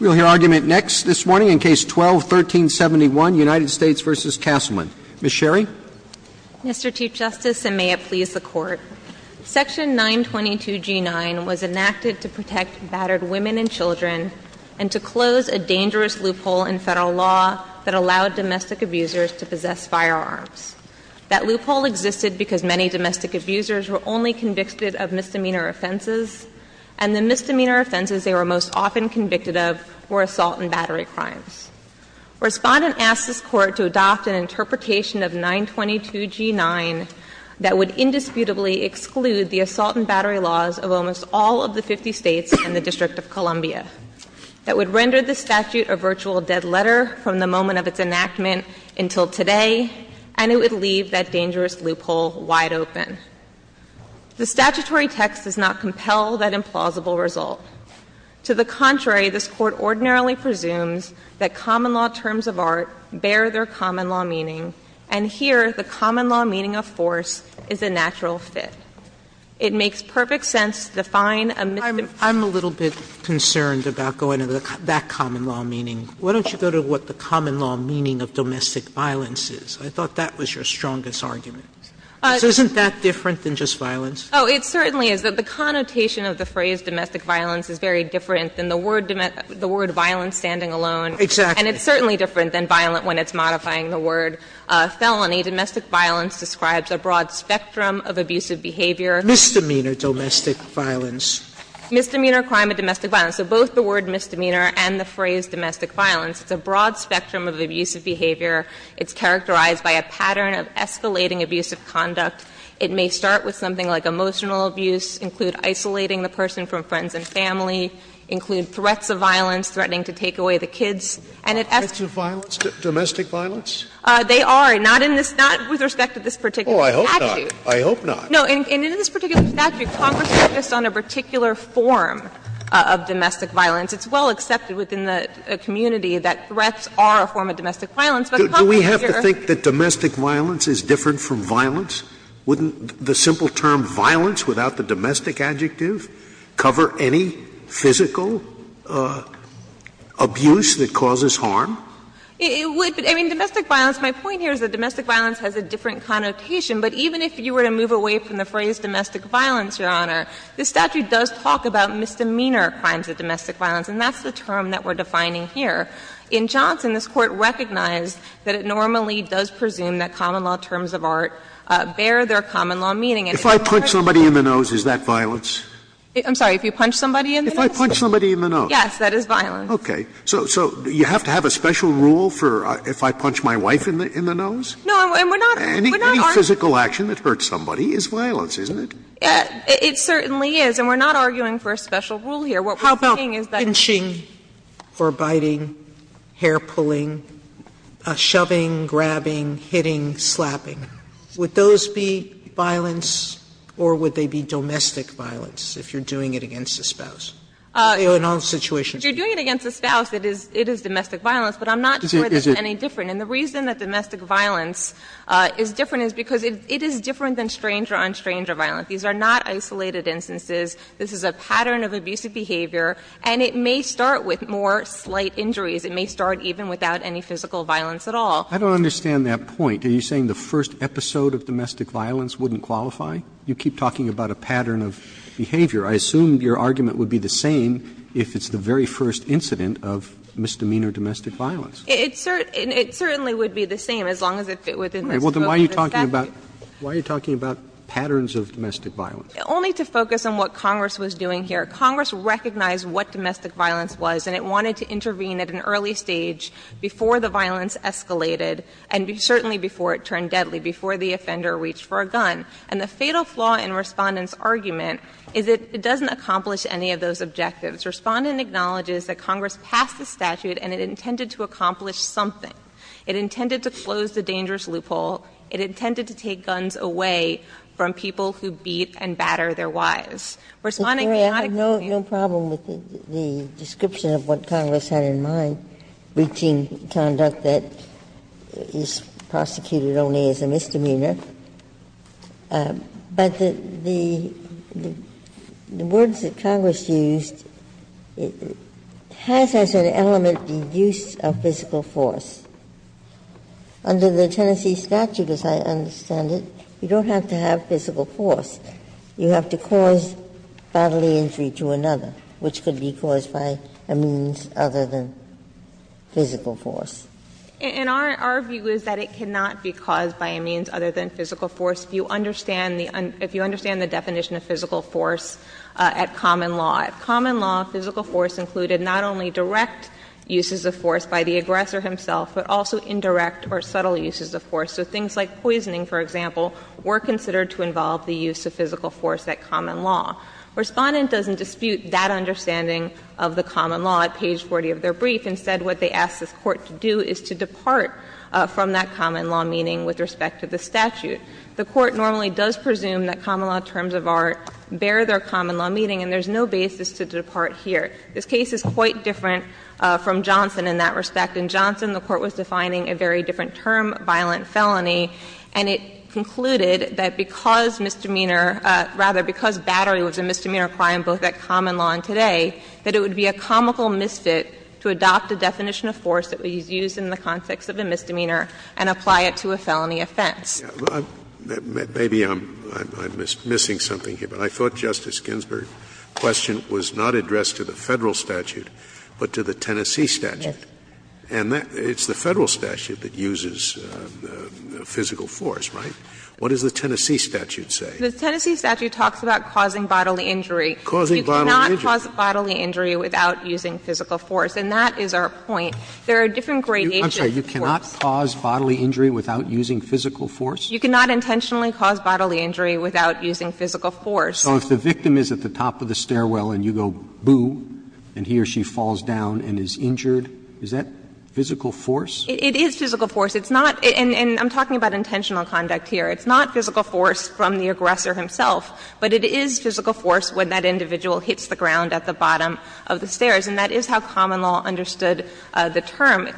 We'll hear argument next this morning in Case 12-1371, United States v. Castleman. Ms. Sherry. Mr. Chief Justice, and may it please the Court, Section 922G9 was enacted to protect battered women and children and to close a dangerous loophole in Federal law that allowed domestic abusers to possess firearms. That loophole existed because many domestic abusers were only convicted of misdemeanor offenses, and the misdemeanor offenses they were most often convicted of were assault and battery crimes. A Respondent asked this Court to adopt an interpretation of 922G9 that would indisputably exclude the assault and battery laws of almost all of the 50 States and the District of Columbia, that would render the statute a virtual dead letter from the moment of its enactment until today, and it would leave that dangerous loophole wide open. The statutory text does not compel that implausible result. To the contrary, this Court ordinarily presumes that common-law terms of art bear their common-law meaning, and here the common-law meaning of force is a natural fit. It makes perfect sense to define a misdemeanor offense as a force of force. Sotomayor, I'm a little bit concerned about going into that common-law meaning. Why don't you go to what the common-law meaning of domestic violence is? I thought that was your strongest argument. Isn't that different than just violence? Oh, it certainly is. The connotation of the phrase domestic violence is very different than the word --"violence standing alone." Exactly. And it's certainly different than violent when it's modifying the word felony. Domestic violence describes a broad spectrum of abusive behavior. Misdemeanor domestic violence. Misdemeanor, crime, and domestic violence. So both the word misdemeanor and the phrase domestic violence, it's a broad spectrum of abusive behavior. It's characterized by a pattern of escalating abusive conduct. It may start with something like emotional abuse, include isolating the person from friends and family, include threats of violence, threatening to take away the kids, and it escalates. Threats of violence? Domestic violence? They are, not in this – not with respect to this particular statute. Oh, I hope not. I hope not. No, and in this particular statute, Congress focused on a particular form of domestic violence. It's well accepted within the community that threats are a form of domestic violence, but Congress here— Do we have to think that domestic violence is different from violence? Wouldn't the simple term violence without the domestic adjective cover any physical abuse that causes harm? It would, but, I mean, domestic violence, my point here is that domestic violence has a different connotation. But even if you were to move away from the phrase domestic violence, Your Honor, this statute does talk about misdemeanor crimes of domestic violence, and that's the term that we're defining here. In Johnson, this Court recognized that it normally does presume that common law terms of art bear their common law meaning. And in this particular case— If I punch somebody in the nose, is that violence? I'm sorry. If you punch somebody in the nose? If I punch somebody in the nose. Yes, that is violence. Okay. So you have to have a special rule for if I punch my wife in the nose? No, and we're not— Any physical action that hurts somebody is violence, isn't it? It certainly is, and we're not arguing for a special rule here. What we're saying is that— Slapping, or biting, hair-pulling, shoving, grabbing, hitting, slapping, would those be violence, or would they be domestic violence if you're doing it against a spouse? In all situations. If you're doing it against a spouse, it is domestic violence, but I'm not sure it's any different. And the reason that domestic violence is different is because it is different than stranger-on-stranger violence. These are not isolated instances. This is a pattern of abusive behavior, and it may start with more slight injuries. It may start even without any physical violence at all. I don't understand that point. Are you saying the first episode of domestic violence wouldn't qualify? You keep talking about a pattern of behavior. I assume your argument would be the same if it's the very first incident of misdemeanor domestic violence. It certainly would be the same as long as it fit within the scope of the statute. Why are you talking about patterns of domestic violence? Only to focus on what Congress was doing here. Congress recognized what domestic violence was, and it wanted to intervene at an early stage before the violence escalated, and certainly before it turned deadly, before the offender reached for a gun. And the fatal flaw in Respondent's argument is it doesn't accomplish any of those objectives. Respondent acknowledges that Congress passed the statute, and it intended to accomplish something. It intended to close the dangerous loophole. It intended to take guns away from people who beat and batter their wives. Respondent cannot explain the reason for that. Ginsburg. I have no problem with the description of what Congress had in mind, breaching conduct that is prosecuted only as a misdemeanor. But the words that Congress used has as an element the use of physical force. Under the Tennessee statute, as I understand it, you don't have to have physical force. You have to cause bodily injury to another, which could be caused by a means other than physical force. And our view is that it cannot be caused by a means other than physical force. If you understand the definition of physical force at common law, at common law, physical force included not only direct uses of force by the aggressor himself, but also indirect or subtle uses of force. So things like poisoning, for example, were considered to involve the use of physical force at common law. Respondent doesn't dispute that understanding of the common law at page 40 of their brief. Instead, what they ask this Court to do is to depart from that common law meaning with respect to the statute. The Court normally does presume that common law terms of art bear their common law meaning, and there's no basis to depart here. This case is quite different from Johnson in that respect. In Johnson, the Court was defining a very different term, violent felony, and it concluded that because misdemeanor, rather, because battery was a misdemeanor crime both at common law and today, that it would be a comical misfit to adopt a definition of force that was used in the context of a misdemeanor and apply it to a felony offense. Scalia, maybe I'm missing something here, but I thought Justice Ginsburg's question was not addressed to the Federal statute, but to the Tennessee statute. And it's the Federal statute that uses physical force, right? What does the Tennessee statute say? The Tennessee statute talks about causing bodily injury. You cannot cause bodily injury without using physical force, and that is our point. There are different gradations of force. Roberts You cannot cause bodily injury without using physical force? You cannot intentionally cause bodily injury without using physical force. So if the victim is at the top of the stairwell and you go, boo, and he or she falls down and is injured, is that physical force? It is physical force. It's not — and I'm talking about intentional conduct here. It's not physical force from the aggressor himself, but it is physical force when that individual hits the ground at the bottom of the stairs, and that is how common law understood the term.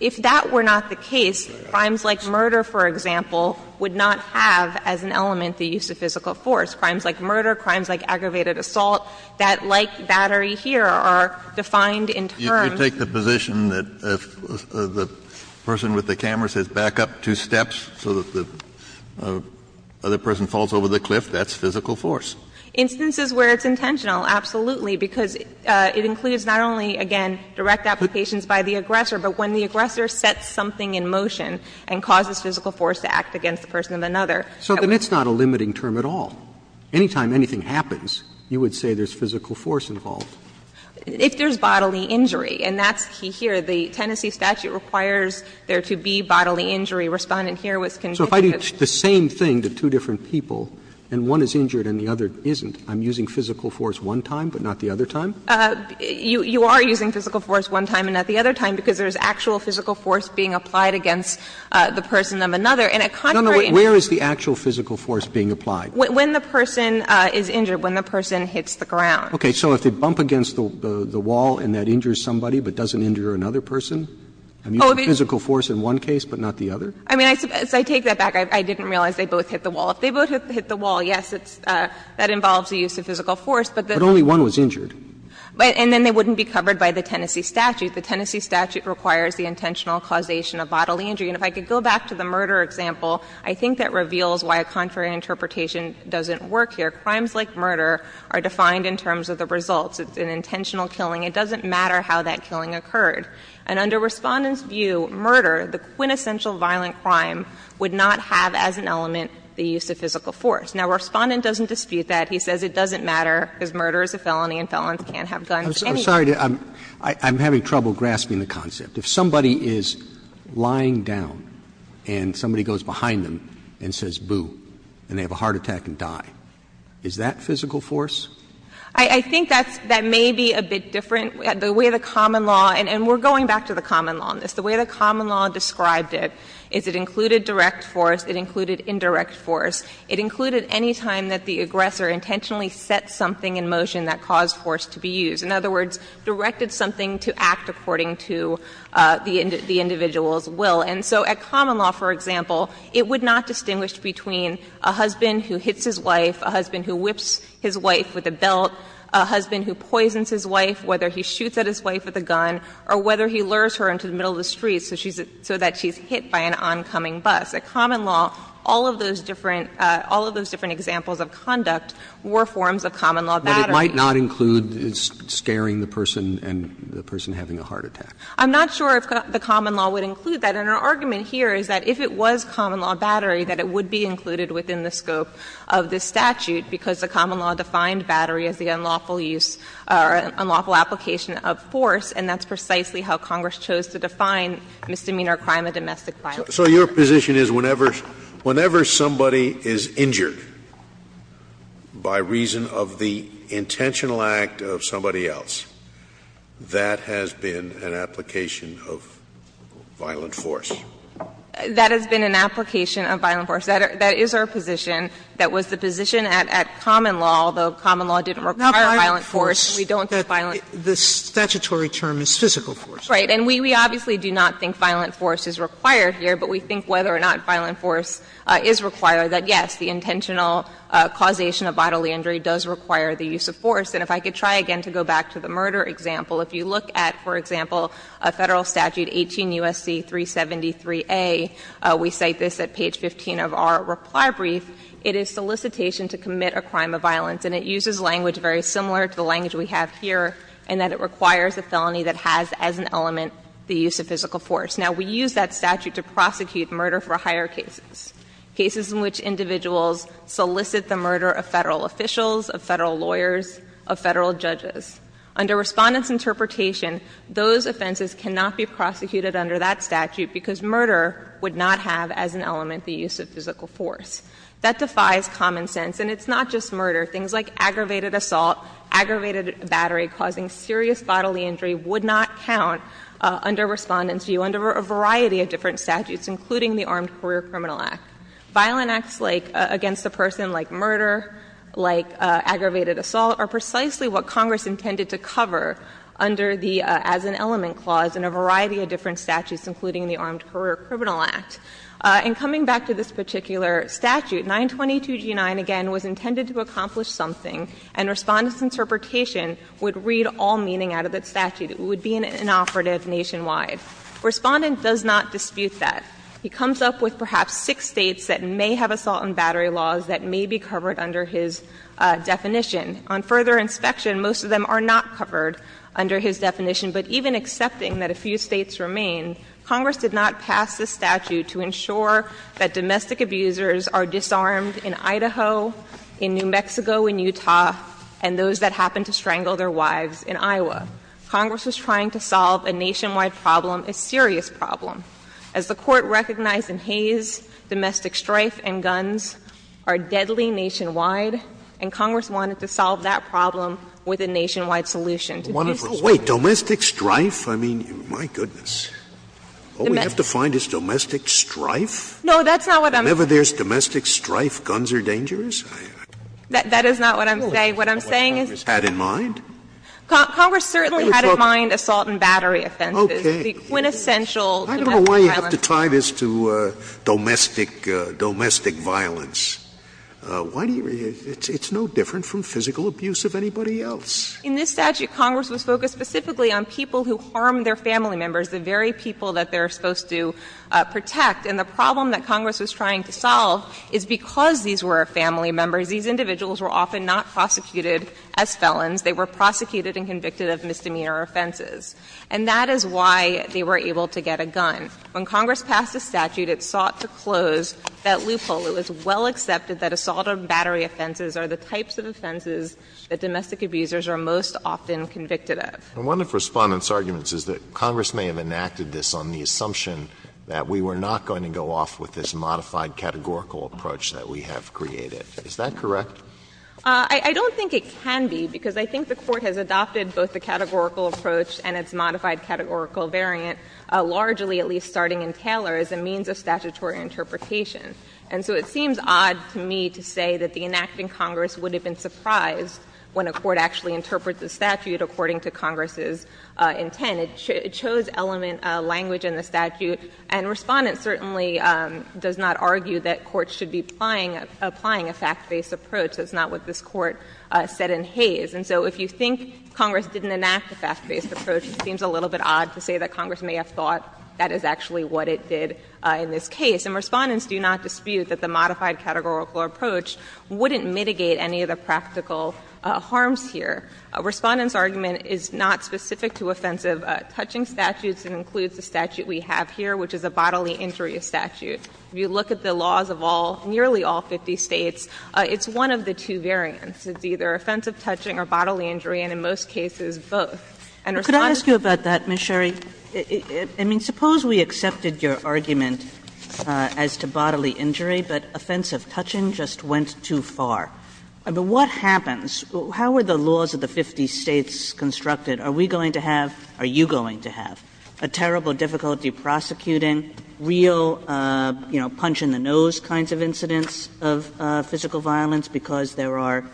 If that were not the case, crimes like murder, for example, would not have as an element the use of physical force. Crimes like murder, crimes like aggravated assault, that, like Battery here, are defined in terms of the person with the camera says back up two steps so that the other person falls over the cliff, that's physical force. If you take the position that if the person with the camera says back up two steps so that the other person falls over the cliff, that's physical force, and that's physical force from the aggressor, but when the aggressor sets something in motion and causes physical force to act against the person of another, that wouldn't be physical force. Roberts. So then it's not a limiting term at all. Any time anything happens, you would say there's physical force involved. If there's bodily injury, and that's here, the Tennessee statute requires there Respondent here was convinced that there's bodily injury. There's actual physical force being applied against the person of another. And a concrete injury. Where is the actual physical force being applied? When the person is injured, when the person hits the ground. Okay. So if they bump against the wall and that injures somebody but doesn't injure another person, and there's physical force in one case but not the other? I mean, as I take that back, I didn't realize they both hit the wall. If they both hit the wall, yes, that involves the use of physical force, but the But only one was injured. And then they wouldn't be covered by the Tennessee statute. The Tennessee statute requires the intentional causation of bodily injury. And if I could go back to the murder example, I think that reveals why a contrary interpretation doesn't work here. Crimes like murder are defined in terms of the results. It's an intentional killing. It doesn't matter how that killing occurred. And under Respondent's view, murder, the quintessential violent crime, would not have as an element the use of physical force. Now, Respondent doesn't dispute that. He says it doesn't matter, because murder is a felony and felons can't have guns anywhere. I'm sorry to ask, I'm having trouble grasping the concept. If somebody is lying down and somebody goes behind them and says, boo, and they have a heart attack and die, is that physical force? I think that's that may be a bit different. The way the common law, and we're going back to the common law on this, the way the common law described it is it included direct force, it included indirect force, it included any time that the aggressor intentionally set something in motion that caused force to be used. In other words, directed something to act according to the individual's will. And so at common law, for example, it would not distinguish between a husband who hits his wife, a husband who whips his wife with a belt, a husband who poisons his wife, whether he shoots at his wife with a gun, or whether he lures her into the middle of the street so that she's hit by an oncoming bus. At common law, all of those different examples of conduct were forms of common law that it might not include scaring the person and the person having a heart attack. I'm not sure if the common law would include that. And our argument here is that if it was common law battery, that it would be included within the scope of this statute, because the common law defined battery as the unlawful use or unlawful application of force, and that's precisely how Congress chose to define misdemeanor crime of domestic violence. Scalia, so your position is whenever somebody is injured by reason of the intentional act of somebody else, that has been an application of violent force? That has been an application of violent force. That is our position. That was the position at common law, although common law didn't require violent force. We don't think violent force. The statutory term is physical force. Right. And we obviously do not think violent force is required here, but we think whether or not violent force is required, that, yes, the intentional causation of bodily injury does require the use of force. And if I could try again to go back to the murder example, if you look at, for example, Federal Statute 18 U.S.C. 373a, we cite this at page 15 of our reply brief, it is solicitation to commit a crime of violence, and it uses language very similar to the language we have here, in that it requires a felony that has as an element the use of physical force. Now, we use that statute to prosecute murder for higher cases, cases in which individuals solicit the murder of Federal officials, of Federal lawyers, of Federal judges. Under Respondent's interpretation, those offenses cannot be prosecuted under that statute, because murder would not have as an element the use of physical force. That defies common sense, and it's not just murder. Things like aggravated assault, aggravated battery causing serious bodily injury would not count under Respondent's view under a variety of different statutes, including the Armed Career Criminal Act. Violent acts, like, against a person, like murder, like aggravated assault, are precisely what Congress intended to cover under the as an element clause in a variety of different statutes, including the Armed Career Criminal Act. In coming back to this particular statute, 922G9, again, was intended to accomplish something, and Respondent's interpretation would read all meaning out of that statute. It would be an inoperative nationwide. Respondent does not dispute that. He comes up with perhaps six States that may have assault and battery laws that may be covered under his definition. On further inspection, most of them are not covered under his definition, but even accepting that a few States remain, Congress did not pass this statute to ensure that domestic abusers are disarmed in Idaho, in New Mexico, in Utah, and those that happen to strangle their wives in Iowa. Congress was trying to solve a nationwide problem, a serious problem. As the Court recognized in Hayes, domestic strife and guns are deadly nationwide, and Congress wanted to solve that problem with a nationwide solution. To be specific. Scalia, domestic strife, I mean, my goodness. All we have to find is domestic strife? No, that's not what I'm saying. Whenever there's domestic strife, guns are dangerous? That is not what I'm saying. What I'm saying is that Congress certainly had in mind assault and battery offenses. Okay. The quintessential domestic violence. I don't know why you have to tie this to domestic violence. Why do you really – it's no different from physical abuse of anybody else. In this statute, Congress was focused specifically on people who harm their family members, the very people that they're supposed to protect. And the problem that Congress was trying to solve is because these were family members, these individuals were often not prosecuted as felons. They were prosecuted and convicted of misdemeanor offenses. And that is why they were able to get a gun. When Congress passed the statute, it sought to close that loophole. It was well accepted that assault and battery offenses are the types of offenses that domestic abusers are most often convicted of. Alito And one of Respondent's arguments is that Congress may have enacted this on the assumption that we were not going to go off with this modified categorical approach that we have created. Is that correct? I don't think it can be, because I think the Court has adopted both the categorical approach and its modified categorical variant, largely at least starting in Taylor as a means of statutory interpretation. And so it seems odd to me to say that the enacting Congress would have been surprised when a court actually interprets the statute according to Congress's intent. It chose element language in the statute, and Respondent certainly does not argue that courts should be applying a fact-based approach. That's not what this Court said in Hays. And so if you think Congress didn't enact a fact-based approach, it seems a little bit odd to say that Congress may have thought that is actually what it did in this case. And Respondents do not dispute that the modified categorical approach wouldn't mitigate any of the practical harms here. Respondent's argument is not specific to offensive touching statutes. It includes the statute we have here, which is a bodily injury statute. If you look at the laws of all, nearly all 50 States, it's one of the two variants. It's either offensive touching or bodily injury, and in most cases both. And Respondent's Kagan could I ask you about that, Ms. Sherry? I mean, suppose we accepted your argument as to bodily injury, but offensive touching just went too far. I mean, what happens? How are the laws of the 50 States constructed? Are we going to have, are you going to have a terrible difficulty prosecuting real, you know, punch-in-the-nose kinds of incidents of physical violence because there are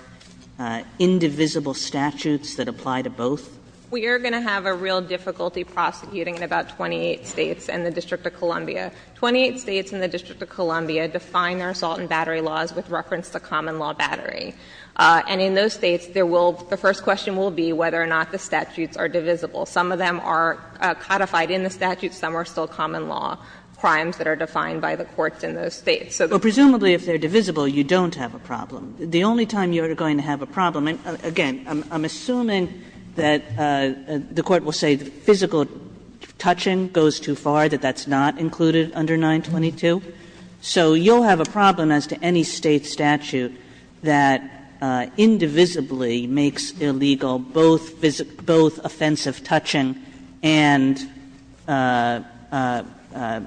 indivisible statutes that apply to both? We are going to have a real difficulty prosecuting in about 28 States and the District of Columbia. 28 States and the District of Columbia define their assault and battery laws with reference to common law battery. And in those States, there will, the first question will be whether or not the statutes are divisible. Some of them are codified in the statutes. Some are still common law crimes that are defined by the courts in those States. So there's a problem. Kagan Well, presumably if they're divisible, you don't have a problem. We'll say the physical touching goes too far, that that's not included under 922. So you'll have a problem as to any State statute that indivisibly makes illegal both offensive touching and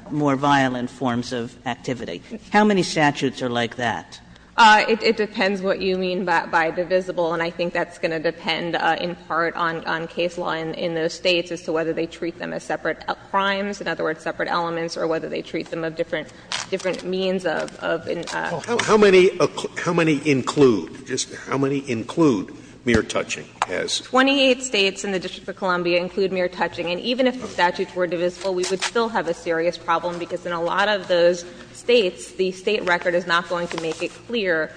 more violent forms of activity. How many statutes are like that? Sherry It depends what you mean by divisible, and I think that's going to depend in part on case law in those States as to whether they treat them as separate crimes, in other words, separate elements, or whether they treat them as different means of Scalia How many include, just how many include mere touching as? Sherry 28 States and the District of Columbia include mere touching. And even if the statutes were divisible, we would still have a serious problem, because in a lot of those States, the State record is not going to make it clear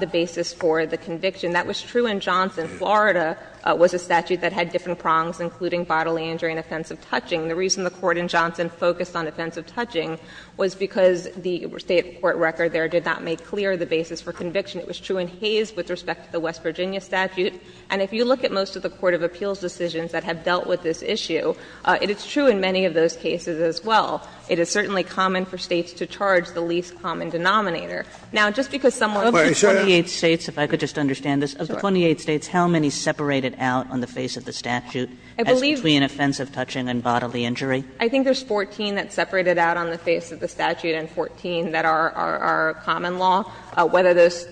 the basis for the conviction. That was true in Johnson. Florida was a statute that had different prongs, including bodily injury and offensive touching. The reason the Court in Johnson focused on offensive touching was because the State court record there did not make clear the basis for conviction. It was true in Hays with respect to the West Virginia statute. And if you look at most of the court of appeals decisions that have dealt with this issue, it is true in many of those cases as well. It is certainly common for States to charge the least common denominator. Now, just because someone Scalia Of the 28 States, if I could just understand this, of the 28 States, how many separated out on the face of the statute as between offensive touching and bodily injury? Sherry I think there's 14 that separated out on the face of the statute and 14 that are common law. Whether those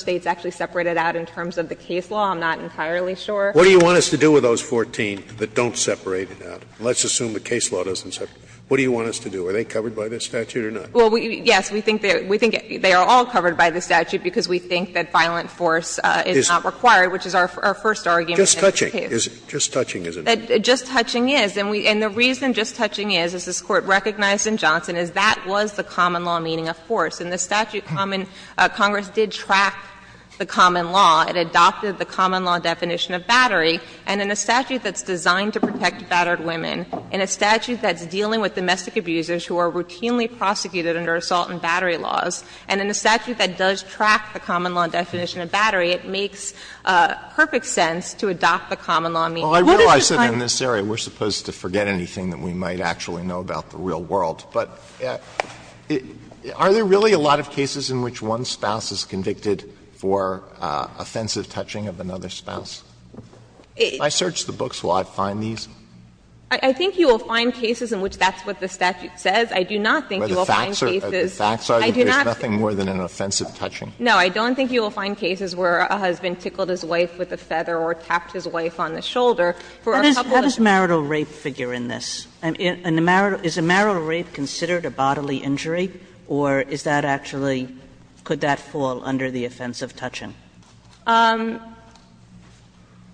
States actually separated out in terms of the case law, I'm not entirely sure. Scalia What do you want us to do with those 14 that don't separate it out? Let's assume the case law doesn't separate it out. What do you want us to do? Are they covered by this statute or not? Sherry Well, yes, we think they are all covered by the statute because we think that violent force is not required, which is our first argument in this case. Scalia Just touching, just touching is it? Sherry Just touching is. And the reason just touching is, as this Court recognized in Johnson, is that was the common law meaning of force. In the statute, Congress did track the common law. It adopted the common law definition of battery. And in a statute that's designed to protect battered women, in a statute that's routinely prosecuted under assault and battery laws, and in a statute that does track the common law definition of battery, it makes perfect sense to adopt the common What does it kind of mean? Alito Well, I realize that in this area we're supposed to forget anything that we might actually know about the real world. But are there really a lot of cases in which one spouse is convicted for offensive touching of another spouse? If I search the books, will I find these? Sherry I think you will find cases in which that's what the statute says. I do not think you will find cases. I do not think you will find cases where a husband tickled his wife with a feather or tapped his wife on the shoulder for a couple of days. Sotomayor How does marital rape figure in this? Is a marital rape considered a bodily injury, or is that actually, could that fall under the offense of touching? Sherry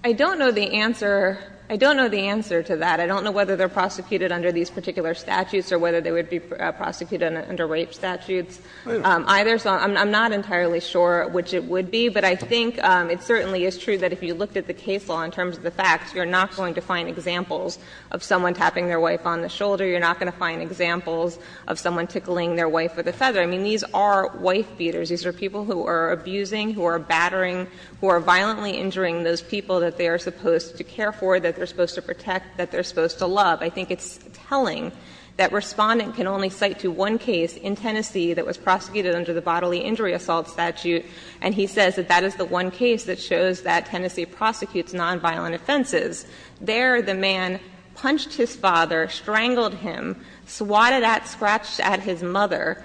I don't know the answer. I don't know the answer to that. I don't know whether they're prosecuted under these particular statutes or whether they would be prosecuted under rape statutes either. So I'm not entirely sure which it would be, but I think it certainly is true that if you looked at the case law in terms of the facts, you're not going to find examples of someone tapping their wife on the shoulder. You're not going to find examples of someone tickling their wife with a feather. I mean, these are wife-beaters. These are people who are abusing, who are battering, who are violently injuring those people that they are supposed to care for, that they're supposed to protect, that they're supposed to love. I think it's telling that Respondent can only cite to one case in Tennessee that was prosecuted under the bodily injury assault statute, and he says that that is the one case that shows that Tennessee prosecutes nonviolent offenses. There, the man punched his father, strangled him, swatted at, scratched at his mother,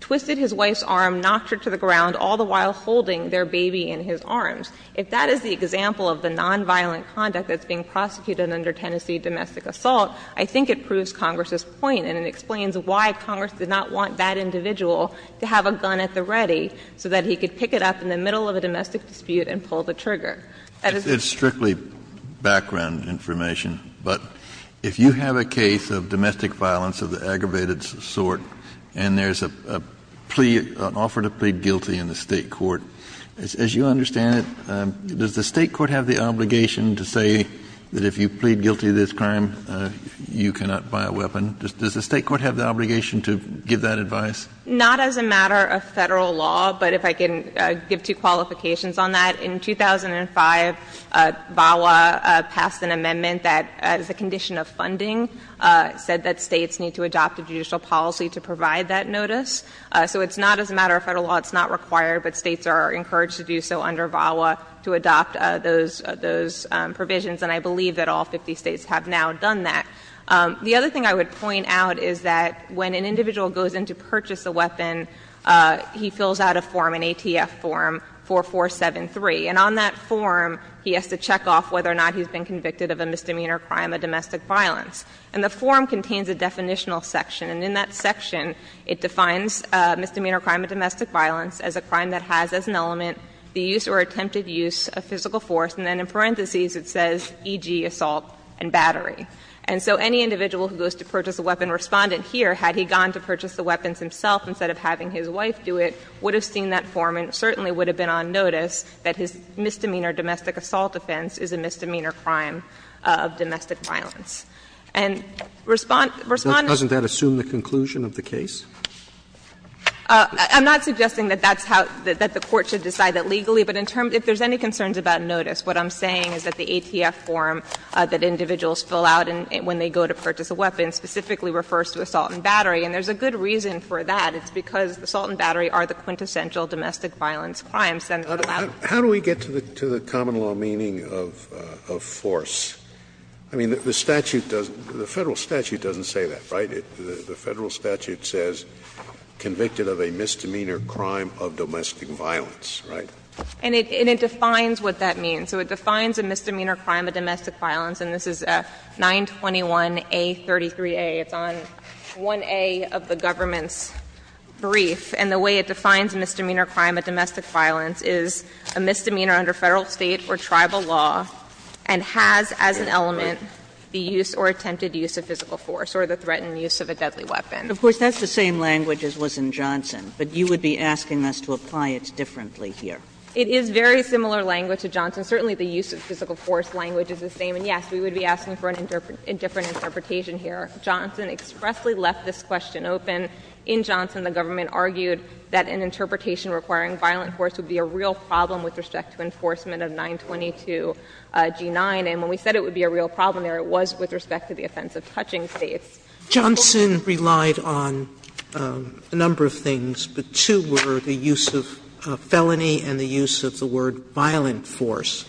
twisted his wife's arm, knocked her to the ground, all the while holding their baby in his arms. If that is the example of the nonviolent conduct that's being prosecuted under Tennessee domestic assault, I think it proves Congress's point, and it explains why Congress did not want that individual to have a gun at the ready, so that he could pick it up in the middle of a domestic dispute and pull the trigger. Kennedy, it's strictly background information, but if you have a case of domestic violence of the aggravated sort, and there's a plea, an offer to plead guilty in the case, does the State court have the obligation to say that if you plead guilty of this crime, you cannot buy a weapon? Does the State court have the obligation to give that advice? Not as a matter of Federal law, but if I can give two qualifications on that. In 2005, VAWA passed an amendment that, as a condition of funding, said that States need to adopt a judicial policy to provide that notice. So it's not as a matter of Federal law. It's not required, but States are encouraged to do so under VAWA to adopt those provisions, and I believe that all 50 States have now done that. The other thing I would point out is that when an individual goes in to purchase a weapon, he fills out a form, an ATF form, 4473. And on that form, he has to check off whether or not he's been convicted of a misdemeanor crime of domestic violence. And the form contains a definitional section, and in that section, it defines a misdemeanor crime of domestic violence as a crime that has as an element the use or attempted use of physical force, and then in parentheses, it says, e.g., assault and battery. And so any individual who goes to purchase a weapon, Respondent here, had he gone to purchase the weapons himself instead of having his wife do it, would have seen that form and certainly would have been on notice that his misdemeanor domestic assault offense is a misdemeanor crime of domestic violence. And Respondent's Robertson, doesn't that assume the conclusion of the case? I'm not suggesting that that's how the court should decide that legally, but in terms of if there's any concerns about notice, what I'm saying is that the ATF form that individuals fill out when they go to purchase a weapon specifically refers to assault and battery. And there's a good reason for that. It's because assault and battery are the quintessential domestic violence crimes, and that allows them to be used. Scalia, how do we get to the common law meaning of force? I mean, the statute doesn't, the Federal statute doesn't say that, right? The Federal statute says convicted of a misdemeanor crime of domestic violence, right? And it defines what that means. So it defines a misdemeanor crime of domestic violence, and this is 921A33A. It's on 1A of the government's brief. And the way it defines misdemeanor crime of domestic violence is a misdemeanor under Federal, State, or tribal law and has as an element the use or attempted use of physical force or the threatened use of a deadly weapon. Of course, that's the same language as was in Johnson, but you would be asking us to apply it differently here. It is very similar language to Johnson. Certainly the use of physical force language is the same. And, yes, we would be asking for a different interpretation here. Johnson expressly left this question open. In Johnson, the government argued that an interpretation requiring violent force would be a real problem with respect to enforcement of 922G9, and when we said it would be a real problem there, it was with respect to the offense of touching states. Sotomayor, Johnson relied on a number of things, but two were the use of felony and the use of the word violent force,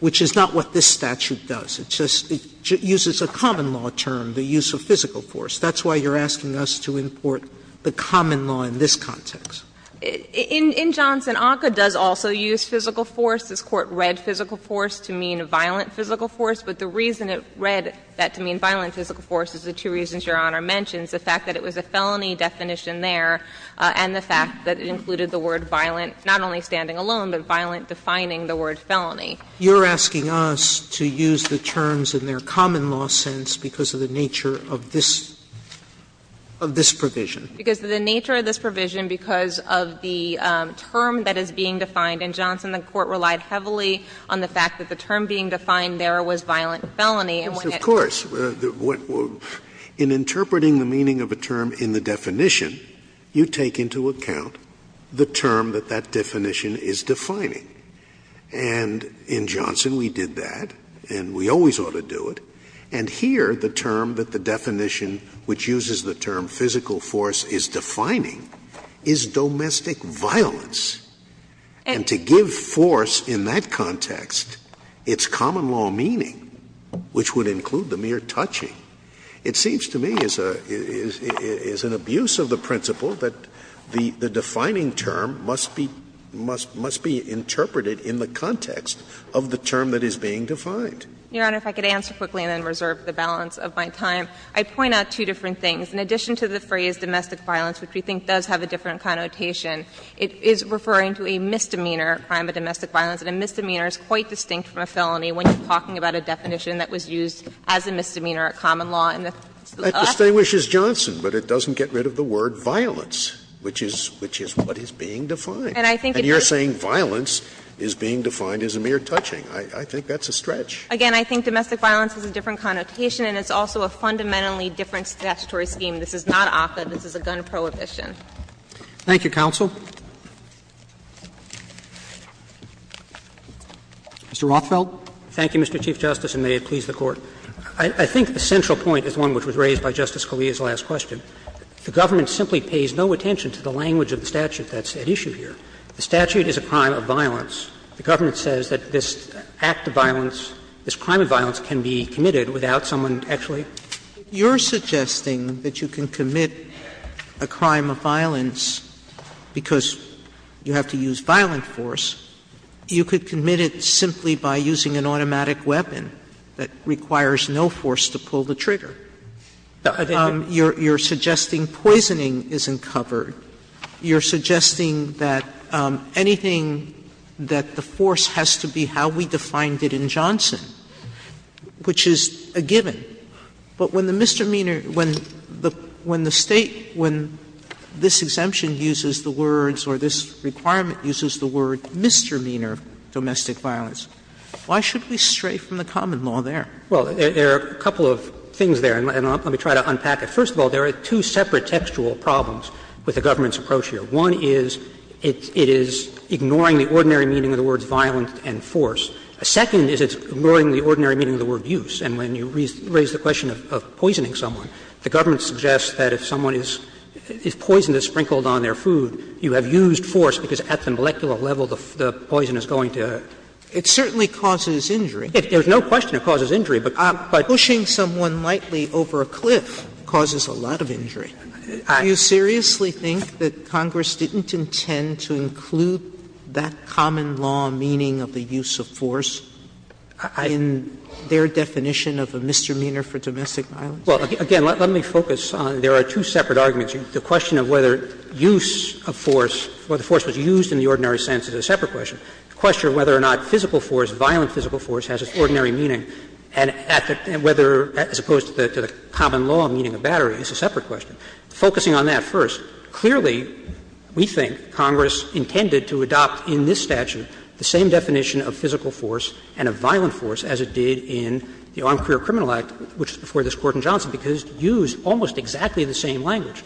which is not what this statute does. It just uses a common law term, the use of physical force. That's why you're asking us to import the common law in this context. In Johnson, ACCA does also use physical force. This Court read physical force to mean violent physical force, but the reason it read that to mean violent physical force is the two reasons Your Honor mentions, the fact that it was a felony definition there and the fact that it included the word violent not only standing alone, but violent defining the word felony. Sotomayor, you're asking us to use the terms in their common law sense because of the nature of this provision. Because of the nature of this provision, because of the term that is being defined in Johnson, the Court relied heavily on the fact that the term being defined there was violent felony. Scalia, in interpreting the meaning of a term in the definition, you take into account the term that that definition is defining. And in Johnson, we did that, and we always ought to do it. And here, the term that the definition, which uses the term physical force, is defining is domestic violence. And to give force in that context its common law meaning, which would include the mere touching, it seems to me is an abuse of the principle that the defining term must be interpreted in the context of the term that is being defined. Your Honor, if I could answer quickly and then reserve the balance of my time, I'd point out two different things. In addition to the phrase domestic violence, which we think does have a different connotation, it is referring to a misdemeanor, a crime of domestic violence. And a misdemeanor is quite distinct from a felony when you're talking about a definition that was used as a misdemeanor, a common law in the last case. Scalia It distinguishes Johnson, but it doesn't get rid of the word violence, which is what is being defined. And you're saying violence is being defined as a mere touching. I think that's a stretch. Again, I think domestic violence has a different connotation, and it's also a fundamentally different statutory scheme. This is not ACCA. This is a gun prohibition. Roberts Thank you, counsel. Mr. Rothfeld. Rothfeld Thank you, Mr. Chief Justice, and may it please the Court. I think the central point is one which was raised by Justice Scalia's last question. The government simply pays no attention to the language of the statute that's at issue here. The statute is a crime of violence. The government says that this act of violence, this crime of violence can be committed without someone actually. If you're suggesting that you can commit a crime of violence because you have to use violent force, you could commit it simply by using an automatic weapon that requires no force to pull the trigger. You're suggesting poisoning isn't covered. You're suggesting that anything that the force has to be how we defined it in Johnson, which is a given, but when the misdemeanor, when the State, when this exemption uses the words or this requirement uses the word misdemeanor domestic violence, why should we stray from the common law there? Well, there are a couple of things there, and let me try to unpack it. First of all, there are two separate textual problems with the government's approach here. One is it is ignoring the ordinary meaning of the words violent and force. Second is it's ignoring the ordinary meaning of the word use. And when you raise the question of poisoning someone, the government suggests that if someone is poisoned, is sprinkled on their food, you have used force because at the molecular level the poison is going to. It certainly causes injury. There's no question it causes injury, but pushing someone lightly over a cliff causes a lot of injury. Do you seriously think that Congress didn't intend to include that common law meaning of the use of force in their definition of a misdemeanor for domestic violence? Well, again, let me focus on there are two separate arguments. The question of whether use of force, whether force was used in the ordinary sense is a separate question. The question of whether or not physical force, violent physical force has its ordinary meaning and whether, as opposed to the common law meaning of battery, is a separate question. Focusing on that first, clearly we think Congress intended to adopt in this statute the same definition of physical force and of violent force as it did in the Armed Career Criminal Act, which is before this Court in Johnson, because it used almost exactly the same language.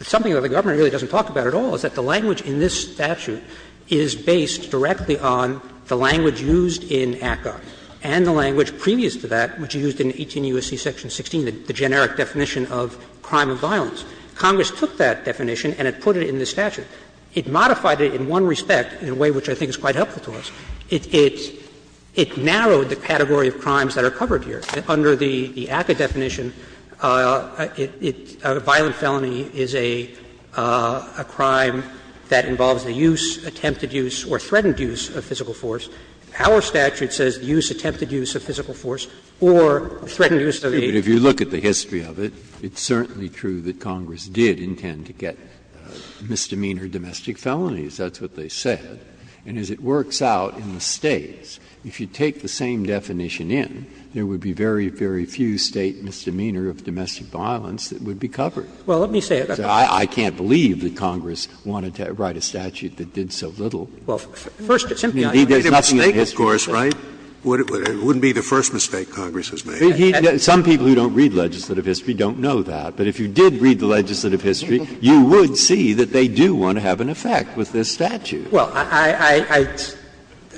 Something that the government really doesn't talk about at all is that the language in this statute is based directly on the language used in ACCA and the language previous to that, which is used in 18 U.S.C. section 16, the generic definition of crime of violence. Congress took that definition and it put it in this statute. It modified it in one respect, in a way which I think is quite helpful to us. It narrowed the category of crimes that are covered here. Under the ACCA definition, a violent felony is a crime that involves the use, attempted use, or threatened use of physical force. Our statute says use, attempted use of physical force or threatened use of the age. Breyer, if you look at the history of it, it's certainly true that Congress did intend to get misdemeanor domestic felonies, that's what they said. And as it works out in the States, if you take the same definition in, there would be very, very few State misdemeanor of domestic violence that would be covered. So I can't believe that Congress wanted to write a statute that did so little. I mean, there's nothing in the history of it. Scalia, there's a mistake, of course, right? It wouldn't be the first mistake Congress has made. Some people who don't read legislative history don't know that. But if you did read the legislative history, you would see that they do want to have an effect with this statute. Well, I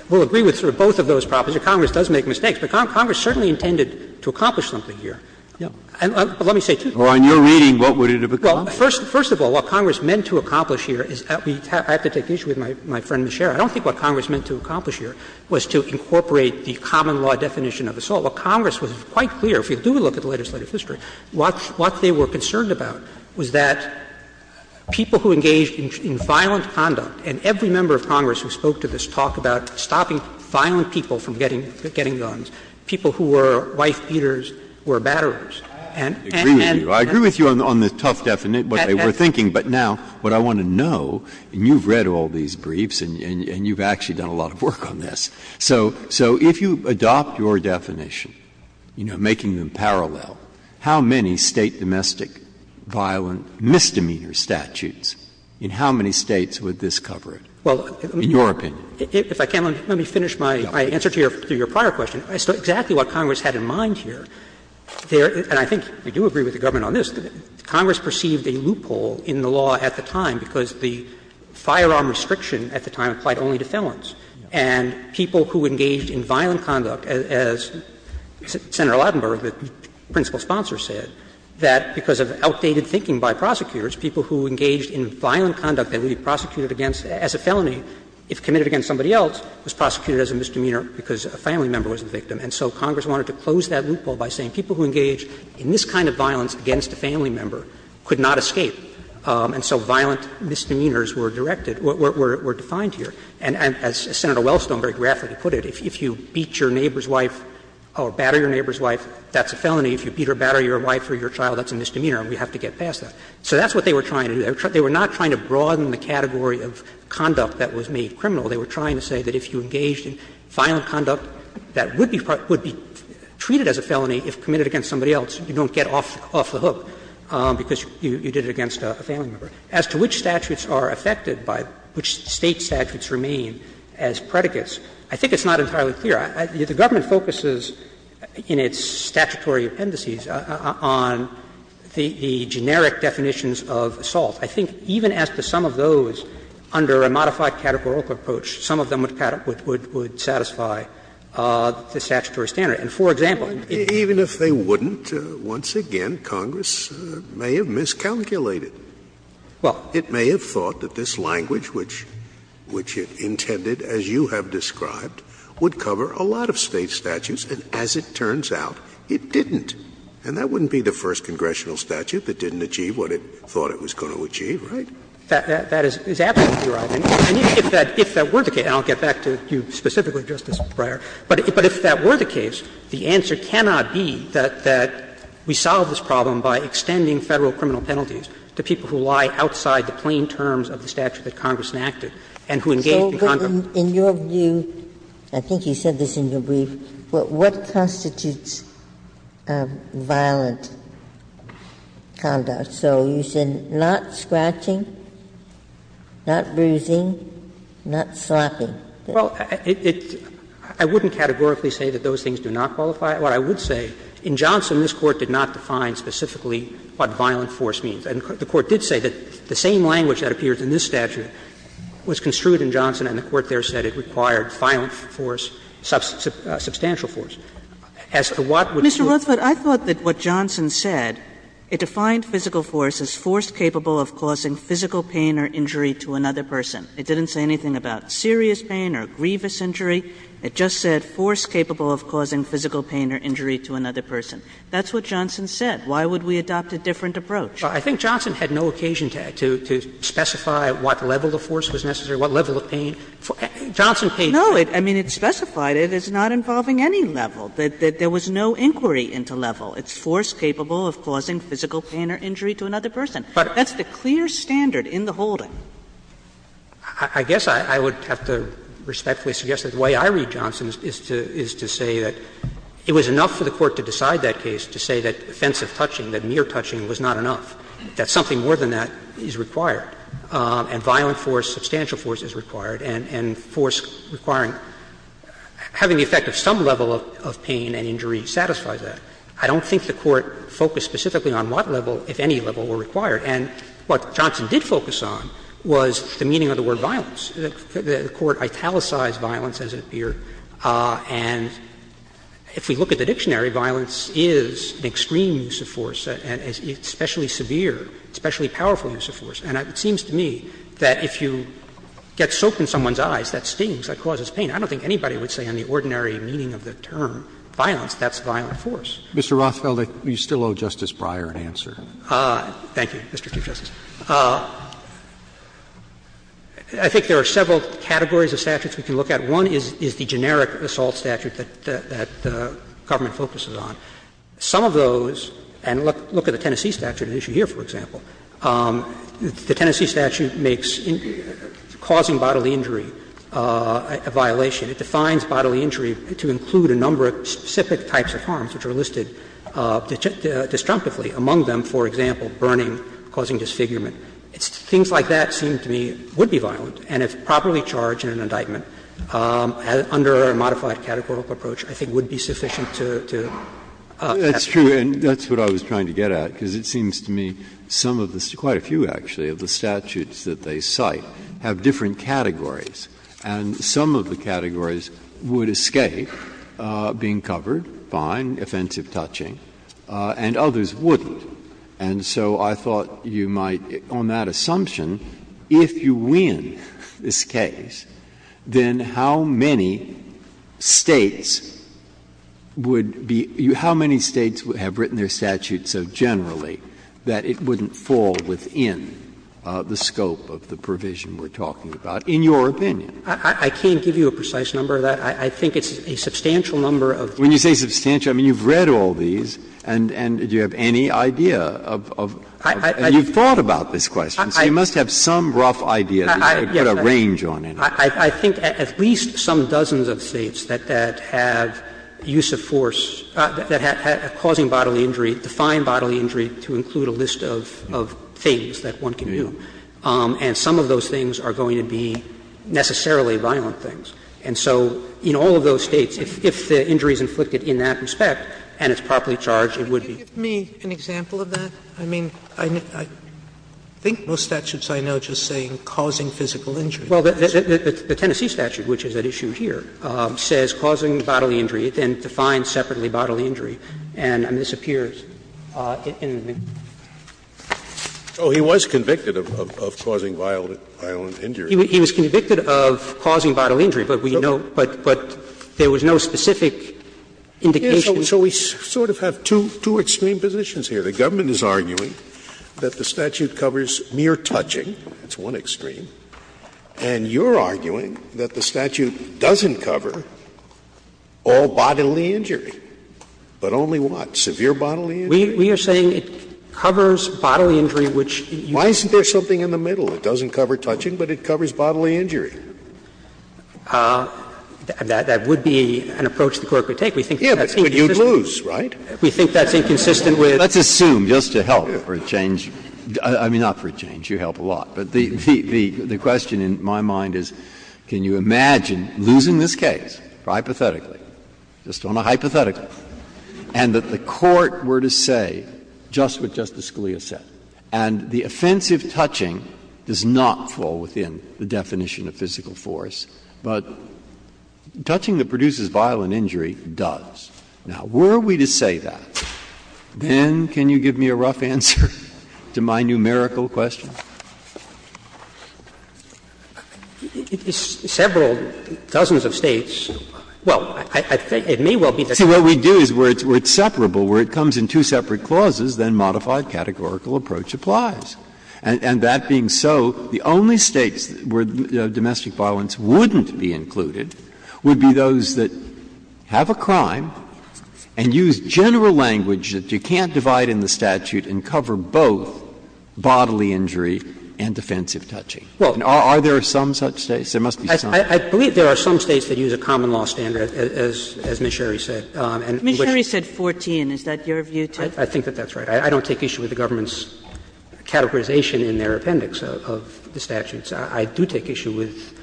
will agree with both of those properties. Congress does make mistakes. But Congress certainly intended to accomplish something here. And let me say, too. Well, in your reading, what would it have accomplished? Well, first of all, what Congress meant to accomplish here is that we have to take issue with my friend, Ms. Sherry. I don't think what Congress meant to accomplish here was to incorporate the common law definition of assault. What Congress was quite clear, if you do look at the legislative history, what they were concerned about was that people who engaged in violent conduct, and every member of Congress who spoke to this talked about stopping violent people from getting guns, people who were wife beaters were batterers. And then the other thing is that we have to take issue with the common law definition of assault. Breyer. I agree with you. I agree with you on the tough definition, what they were thinking. But now what I want to know, and you've read all these briefs and you've actually done a lot of work on this. So if you adopt your definition, you know, making them parallel, how many State domestic violent misdemeanor statutes in how many States would this cover in your opinion? Well, if I can, let me finish my answer to your prior question. Exactly what Congress had in mind here, and I think we do agree with the government on this, Congress perceived a loophole in the law at the time because the firearm restriction at the time applied only to felons. And people who engaged in violent conduct, as Senator Lautenberg, the principal sponsor, said, that because of outdated thinking by prosecutors, people who engaged in violent conduct that would be prosecuted against as a felony, if committed against somebody else, was prosecuted as a misdemeanor because a family member was the victim. And so Congress wanted to close that loophole by saying people who engaged in this kind of violence against a family member could not escape, and so violent misdemeanors were directed, were defined here. And as Senator Wellstone very graphically put it, if you beat your neighbor's wife or batter your neighbor's wife, that's a felony. If you beat or batter your wife or your child, that's a misdemeanor and we have to get past that. So that's what they were trying to do. They were not trying to broaden the category of conduct that was made criminal. They were trying to say that if you engaged in violent conduct that would be treated as a felony if committed against somebody else, you don't get off the hook because you did it against a family member. As to which statutes are affected by which State statutes remain as predicates, I think it's not entirely clear. The government focuses in its statutory appendices on the generic definitions of assault. I think even as to some of those under a modified categorical approach, some of them would satisfy the statutory standard. And for example, if they wouldn't, once again, Congress may have miscalculated. Well, it may have thought that this language, which it intended, as you have described, would cover a lot of State statutes, and as it turns out, it didn't. And that wouldn't be the first congressional statute that didn't achieve what it thought it was going to achieve, right? That is absolutely right. And if that were the case, and I'll get back to you specifically, Justice Breyer, but if that were the case, the answer cannot be that we solve this problem by extending Federal criminal penalties to people who lie outside the plain terms of the statute that Congress enacted and who engaged in conduct. Ginsburg. In your view, I think you said this in your brief, what constitutes violent conduct? So you said not scratching, not bruising, not slapping. Well, I wouldn't categorically say that those things do not qualify. What I would say, in Johnson, this Court did not define specifically what violent force means. And the Court did say that the same language that appears in this statute was construed in Johnson, and the Court there said it required violent force, substantial As to what would be the case? Mr. Rothfeld, I thought that what Johnson said, it defined physical force as force capable of causing physical pain or injury to another person. It didn't say anything about serious pain or grievous injury. It just said force capable of causing physical pain or injury to another person. That's what Johnson said. Why would we adopt a different approach? Well, I think Johnson had no occasion to specify what level of force was necessary, what level of pain. Johnson paid for it. No, I mean, it specified it as not involving any level, that there was no inquiry into level. It's force capable of causing physical pain or injury to another person. That's the clear standard in the holding. I guess I would have to respectfully suggest that the way I read Johnson is to say that it was enough for the Court to decide that case to say that offensive touching, that mere touching was not enough, that something more than that is required, and violent force, substantial force is required, and force requiring having the effect of some level of pain and injury satisfies that. I don't think the Court focused specifically on what level, if any level, were required. And what Johnson did focus on was the meaning of the word violence. The Court italicized violence, as it appeared. And if we look at the dictionary, violence is an extreme use of force, especially severe, especially powerful use of force. And it seems to me that if you get soaked in someone's eyes, that stings, that causes pain. I don't think anybody would say on the ordinary meaning of the term violence, that's violent force. Roberts. Mr. Rothfeld, you still owe Justice Breyer an answer. Thank you. Mr. Chief Justice, I think there are several categories of statutes we can look at. One is the generic assault statute that the government focuses on. Some of those, and look at the Tennessee statute at issue here, for example. The Tennessee statute makes causing bodily injury a violation. It defines bodily injury to include a number of specific types of harms which are causing disfigurement. Things like that seem to me would be violent, and if properly charged in an indictment under a modified categorical approach, I think would be sufficient to capture. That's true, and that's what I was trying to get at, because it seems to me some of the quite a few, actually, of the statutes that they cite have different categories, and some of the categories would escape being covered, fine, offensive touching, and others wouldn't. And so I thought you might, on that assumption, if you win this case, then how many States would be — how many States have written their statutes so generally that it wouldn't fall within the scope of the provision we're talking about, in your opinion? I can't give you a precise number of that. I think it's a substantial number of those. When you say substantial, I mean, you've read all these, and do you have any idea of — and you've thought about this question, so you must have some rough idea to put a range on it. I think at least some dozens of States that have use of force, that have causing bodily injury, define bodily injury to include a list of things that one can do, and some of those things are going to be necessarily violent things. And so in all of those States, if the injury is inflicted in that respect and it's properly charged, it would be. Sotomayor, can you give me an example of that? I mean, I think most statutes I know just say causing physical injury. Well, the Tennessee statute, which is at issue here, says causing bodily injury. It then defines separately bodily injury, and I mean, this appears in the McGill. Oh, he was convicted of causing violent injury. He was convicted of causing bodily injury, but we know — but there was no specific indication. Scalia So we sort of have two extreme positions here. The government is arguing that the statute covers mere touching, that's one extreme. And you're arguing that the statute doesn't cover all bodily injury, but only what? Severe bodily injury? We are saying it covers bodily injury, which you can't say. Why isn't there something in the middle? It doesn't cover touching, but it covers bodily injury. That would be an approach the Court would take. We think that's inconsistent. Breyer Yeah, but you'd lose, right? We think that's inconsistent with the statute. Breyer Let's assume, just to help for a change — I mean, not for a change. You help a lot. But the question in my mind is, can you imagine losing this case, hypothetically, just on a hypothetical, and that the Court were to say just what Justice Scalia said, and the offensive touching does not fall within the definition of physical force, but touching that produces violent injury does. Now, were we to say that, then can you give me a rough answer to my numerical question? Sotomayor Several dozens of States — well, I think it may well be that the States are separate. Breyer See, what we do is where it's separable, where it comes in two separate clauses, then modified categorical approach applies. And that being so, the only States where domestic violence wouldn't be included would be those that have a crime and use general language that you can't divide in the statute and cover both bodily injury and defensive touching. Are there some such States? There must be some. Roberts I believe there are some States that use a common law standard, as Mr. Sherry said. And which — Kagan Mr. Sherry said 14. Is that your view, too? Roberts I think that that's right. I don't take issue with the government's categorization in their appendix of the statutes. I do take issue with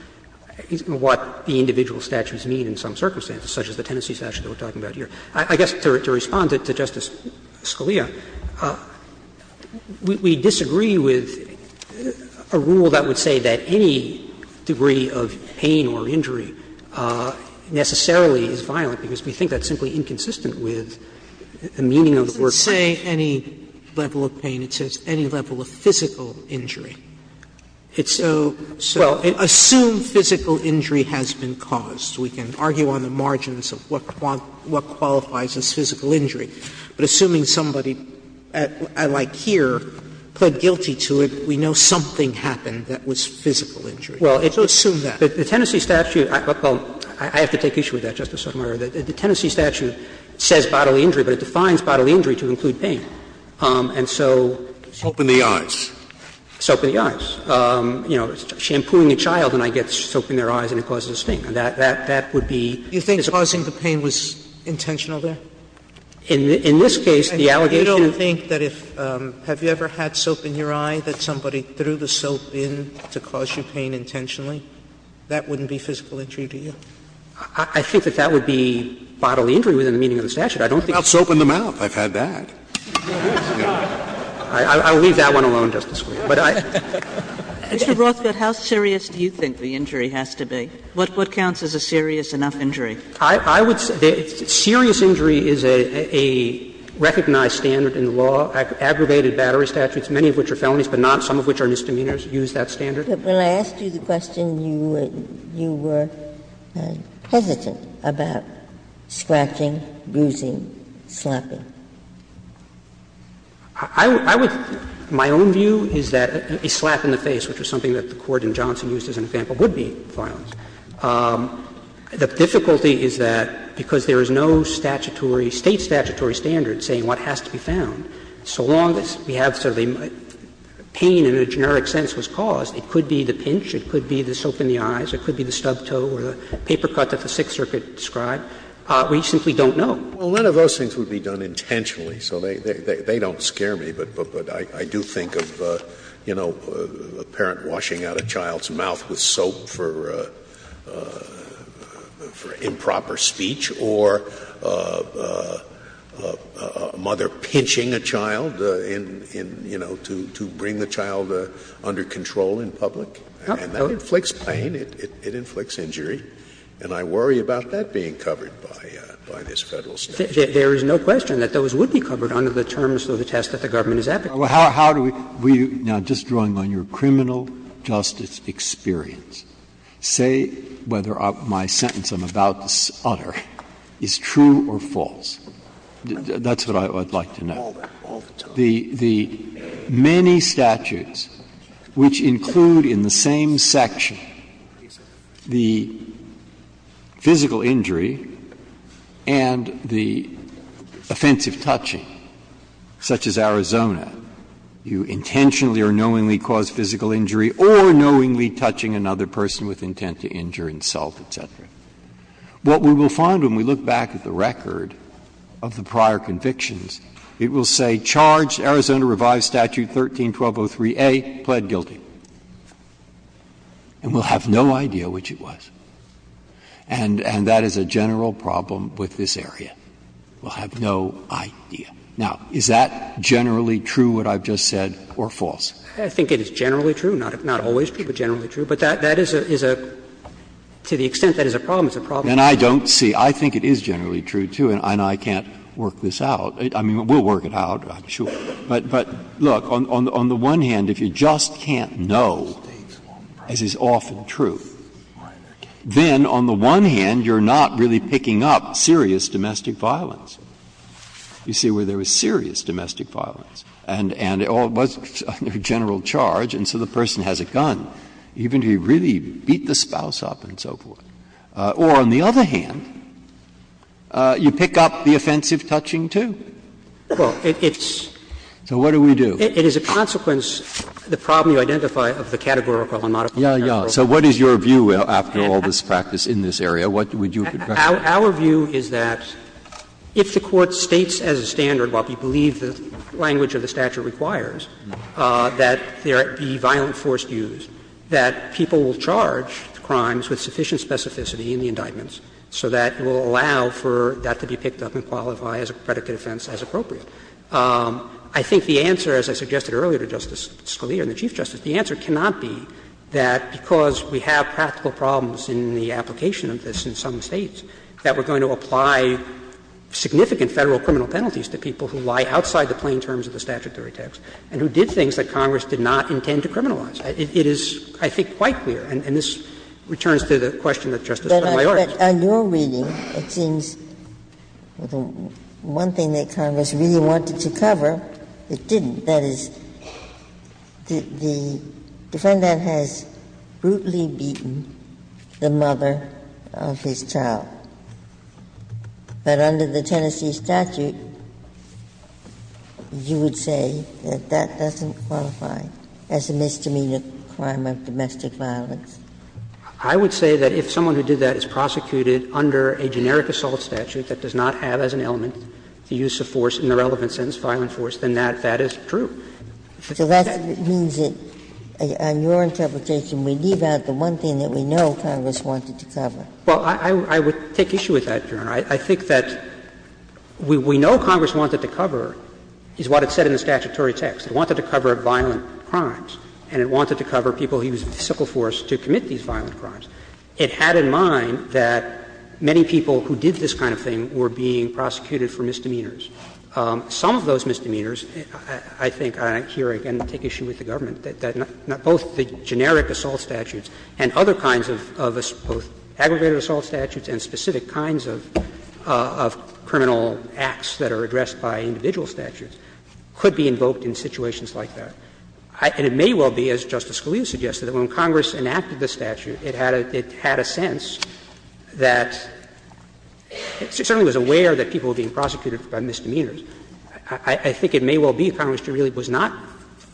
what the individual statutes mean in some circumstances, such as the Tennessee statute that we're talking about here. I guess to respond to Justice Scalia, we disagree with a rule that would say that any degree of pain or injury necessarily is violent, because we think that's simply inconsistent with the meaning of the word. But it doesn't say any level of pain. It says any level of physical injury. It's so — Roberts Well, it assumes physical injury has been caused. We can argue on the margins of what qualifies as physical injury. But assuming somebody, like here, pled guilty to it, we know something happened that was physical injury. So assume that. Roberts Well, the Tennessee statute — I have to take issue with that, Justice Sotomayor — the Tennessee statute says bodily injury, but it defines bodily injury to include pain. And so soap in the eyes. Soap in the eyes. You know, shampooing a child and I get soap in their eyes and it causes a sting. That would be — Sotomayor Do you think causing the pain was intentional there? Roberts In this case, the allegation — Sotomayor I don't think that if — have you ever had soap in your eye that somebody threw the soap in to cause you pain intentionally? That wouldn't be physical injury, do you? Roberts I think that that would be bodily injury within the meaning of the statute. I don't think — Scalia How about soap in the mouth? I've had that. Roberts I will leave that one alone, Justice Scalia. But I — Kagan Mr. Rothfeld, how serious do you think the injury has to be? What counts as a serious enough injury? Rothfeld I would say serious injury is a recognized standard in the law. Aggravated battery statutes, many of which are felonies, but not some of which are misdemeanors, use that standard. Ginsburg But when I asked you the question, you were hesitant about scratching, bruising, slapping. Rothfeld I would — my own view is that a slap in the face, which was something that the Court in Johnson used as an example, would be violence. The difficulty is that because there is no statutory — State statutory standard saying what has to be found, so long as we have sort of a pain in a generic sense was caused, it could be the pinch, it could be the soap in the eyes, it could be the stubbed toe or the paper cut that the Sixth Circuit described, we simply don't know. Scalia Well, none of those things would be done intentionally, so they don't scare me. But I do think of, you know, a parent washing out a child's mouth with soap for improper speech or a mother pinching a child in, you know, to bring the child under control in public, and that inflicts pain, it inflicts injury, and I worry about that being covered by this Federal statute. Roberts There is no question that those would be covered under the terms of the test that the government is advocating. Breyer How do we — now, just drawing on your criminal justice experience, say whether my sentence I'm about to utter is true or false. That's what I would like to know. Rothfeld All the time. The many statutes which include in the same section the physical injury and the offensive touching, such as Arizona, you intentionally or knowingly cause physical injury or knowingly touching another person with intent to injure, insult, et cetera. What we will find when we look back at the record of the prior convictions, it will say, Charged, Arizona Revised Statute 13-1203a, pled guilty, and we'll have no idea which it was. And that is a general problem with this area. We'll have no idea. Now, is that generally true, what I've just said, or false? Roberts I think it is generally true, not always true, but generally true. But that is a — to the extent that is a problem, it's a problem. Breyer And I don't see — I think it is generally true, too, and I can't work this out. I mean, we'll work it out, I'm sure. But, look, on the one hand, if you just can't know, as is often true, then on the one hand, you're not really picking up serious domestic violence. You see where there was serious domestic violence, and it all was under general charge, and so the person has a gun, even if he really beat the spouse up and so forth. Or, on the other hand, you pick up the offensive touching, too. So what do we do? Roberts It is a consequence, the problem you identify, of the categorical and modifiable general rule. Breyer So what is your view, after all this practice in this area? What would you recommend? Roberts Our view is that if the Court states as a standard, what we believe the language of the statute requires, that there be violent force used, that people will charge the crimes with sufficient specificity in the indictments so that it will allow for that to be picked up and qualify as a predicate offense as appropriate. I think the answer, as I suggested earlier to Justice Scalia and the Chief Justice, the answer cannot be that because we have practical problems in the application of this in some States, that we're going to apply significant Federal criminal penalties to people who lie outside the plain terms of the statutory text and who did things that Congress did not intend to criminalize. It is, I think, quite clear, and this returns to the question that Justice Sotomayor asked. Ginsburg But on your reading, it seems the one thing that Congress really wanted to cover, it didn't. That is, the defendant has brutally beaten the mother of his child. But under the Tennessee statute, you would say that that doesn't qualify as a misdemeanor crime of domestic violence. I would say that if someone who did that is prosecuted under a generic assault statute that does not have as an element the use of force in the relevant sentence, violent force, then that is true. So that means that on your interpretation, we leave out the one thing that we know Congress wanted to cover. Well, I would take issue with that, Your Honor. I think that we know Congress wanted to cover, is what it said in the statutory text. It wanted to cover violent crimes, and it wanted to cover people who used physical force to commit these violent crimes. It had in mind that many people who did this kind of thing were being prosecuted for misdemeanors. Some of those misdemeanors, I think, I hear again, take issue with the government, that not both the generic assault statutes and other kinds of both aggregated assault statutes and specific kinds of criminal acts that are addressed by individual statutes could be invoked in situations like that. And it may well be, as Justice Scalia suggested, that when Congress enacted the statute, it had a sense that it certainly was aware that people were being prosecuted by misdemeanors. I think it may well be Congress really was not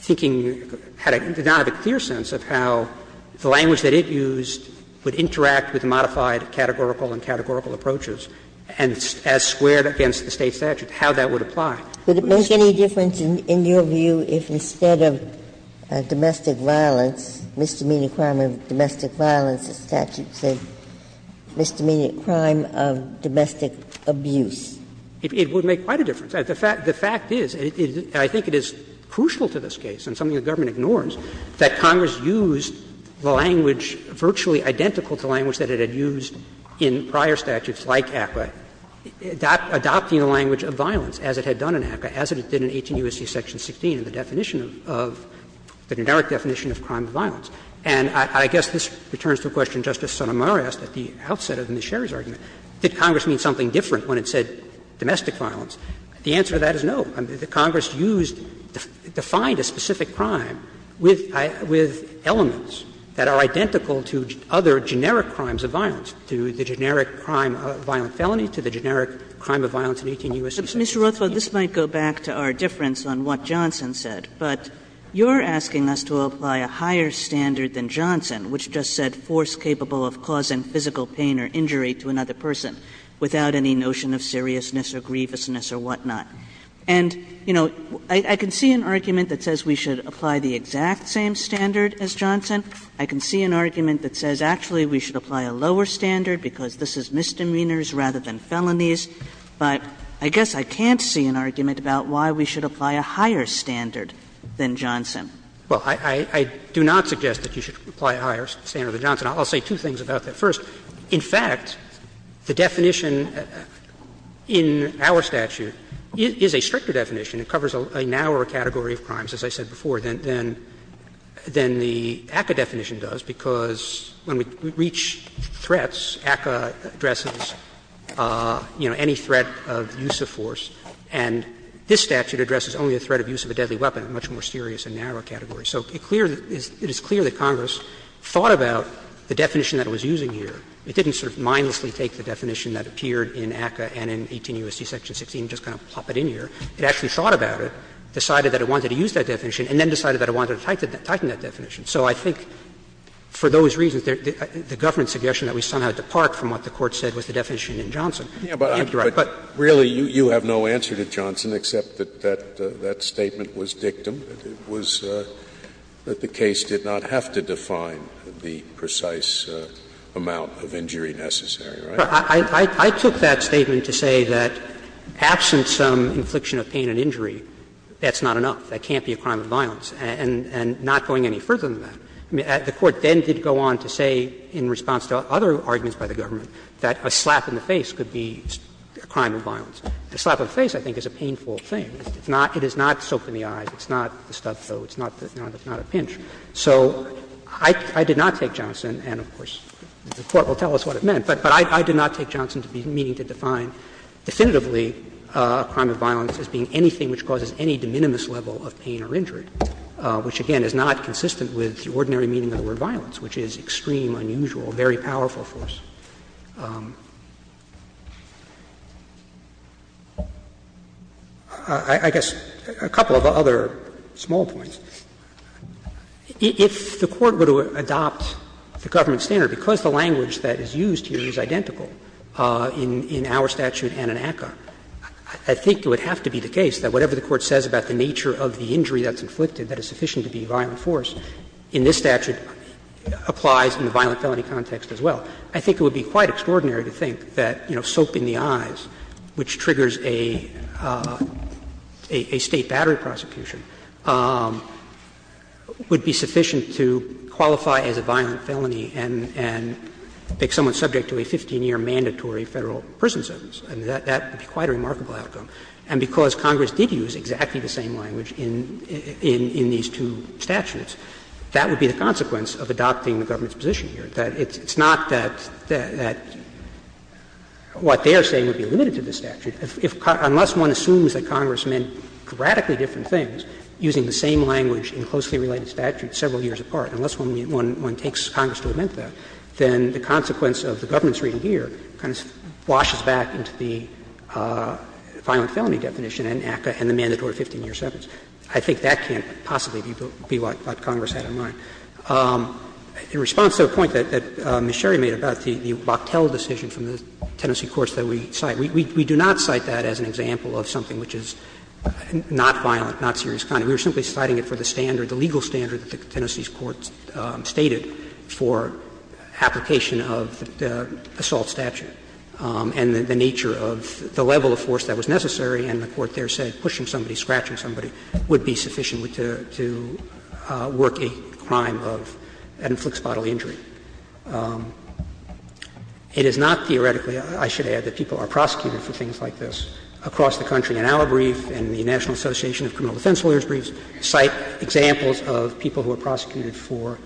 thinking, did not have a clear sense of how the language that it used would interact with the modified categorical and categorical approaches, and as squared against the State statute, how that would apply. Ginsburg. Would it make any difference in your view if instead of domestic violence, misdemeanor crime of domestic violence, the statute said misdemeanor crime of domestic abuse? It would make quite a difference. The fact is, and I think it is crucial to this case, and something the government ignores, that Congress used the language virtually identical to language that it had used in prior statutes like ACCA, adopting the language of violence as it had done in ACCA, as it did in 18 U.S.C. Section 16, the definition of the generic definition of crime of violence. And I guess this returns to a question Justice Sotomayor asked at the outset of Ms. Sherry's argument. Did Congress mean something different when it said domestic violence? The answer to that is no. Congress used, defined a specific crime with elements that are identical to other generic crimes of violence, to the generic crime of violent felony, to the generic crime of violence in 18 U.S.C. Section 16. Kagan. Kagan. Kagan. But, Mr. Rothfeld, this might go back to our difference on what Johnson said, but you're asking us to apply a higher standard than Johnson, which just said force capable of causing physical pain or injury to another person, without any notion of seriousness or grievousness or whatnot. And, you know, I can see an argument that says we should apply the exact same standard as Johnson. I can see an argument that says actually we should apply a lower standard because this is misdemeanors rather than felonies, but I guess I can't see an argument about why we should apply a higher standard than Johnson. Rothfeld. Well, I do not suggest that you should apply a higher standard than Johnson. I'll say two things about that. First, in fact, the definition in our statute is a stricter definition. It covers a narrower category of crimes, as I said before, than the ACCA definition does, because when we reach threats, ACCA addresses, you know, any threat of use of force, and this statute addresses only the threat of use of a deadly weapon, a much more serious and narrow category. So it is clear that Congress thought about the definition that it was using here. It didn't sort of mindlessly take the definition that appeared in ACCA and in 18 U.S.C. section 16 and just kind of plop it in here. It actually thought about it, decided that it wanted to use that definition, and then decided that it wanted to tighten that definition. So I think for those reasons, the government's suggestion that we somehow depart from what the Court said was the definition in Johnson. Scalia. But really, you have no answer to Johnson except that that statement was dictum, that it was that the case did not have to define the precise amount of injury necessary, right? I took that statement to say that absent some infliction of pain and injury, that's not enough. That can't be a crime of violence. And not going any further than that, the Court then did go on to say in response to other arguments by the government that a slap in the face could be a crime of violence. A slap in the face, I think, is a painful thing. It's not soaked in the eyes. It's not the stuff, though. It's not a pinch. So I did not take Johnson, and of course, the Court will tell us what it meant. But I did not take Johnson to be meaning to define definitively a crime of violence as being anything which causes any de minimis level of pain or injury, which, again, is not consistent with the ordinary meaning of the word violence, which is extreme, unusual, very powerful force. I guess a couple of other small points. If the Court were to adopt the government standard, because the language that is used here is identical in our statute and in ACCA, I think it would have to be the case that whatever the Court says about the nature of the injury that's inflicted, that it's sufficient to be violent force, in this statute applies in the violent felony context as well. I think it would be quite extraordinary to think that, you know, soap in the eyes, which triggers a State battery prosecution, would be sufficient to qualify as a violent felony and make someone subject to a 15-year mandatory Federal prison sentence. I mean, that would be quite a remarkable outcome. And because Congress did use exactly the same language in these two statutes, that would be the consequence of adopting the government's position here. It's not that what they are saying would be limited to the statute. Unless one assumes that Congress meant radically different things using the same language in closely related statutes several years apart, unless one takes Congress to admit that, then the consequence of the government's reading here kind of washes back into the violent felony definition in ACCA and the mandatory 15-year sentence. I think that can't possibly be what Congress had in mind. In response to a point that Ms. Sherry made about the Boctel decision from the Tennessee courts that we cite, we do not cite that as an example of something which is not violent, not serious crime. We were simply citing it for the standard, the legal standard that the Tennessee courts stated for application of the assault statute and the nature of the level of force that was necessary, and the Court there said pushing somebody, scratching somebody, would be sufficient to work a crime of ad inflix bodily injury. It is not theoretically, I should add, that people are prosecuted for things like this across the country. In our brief and the National Association of Criminal Defense Lawyers' briefs cite examples of people who are prosecuted for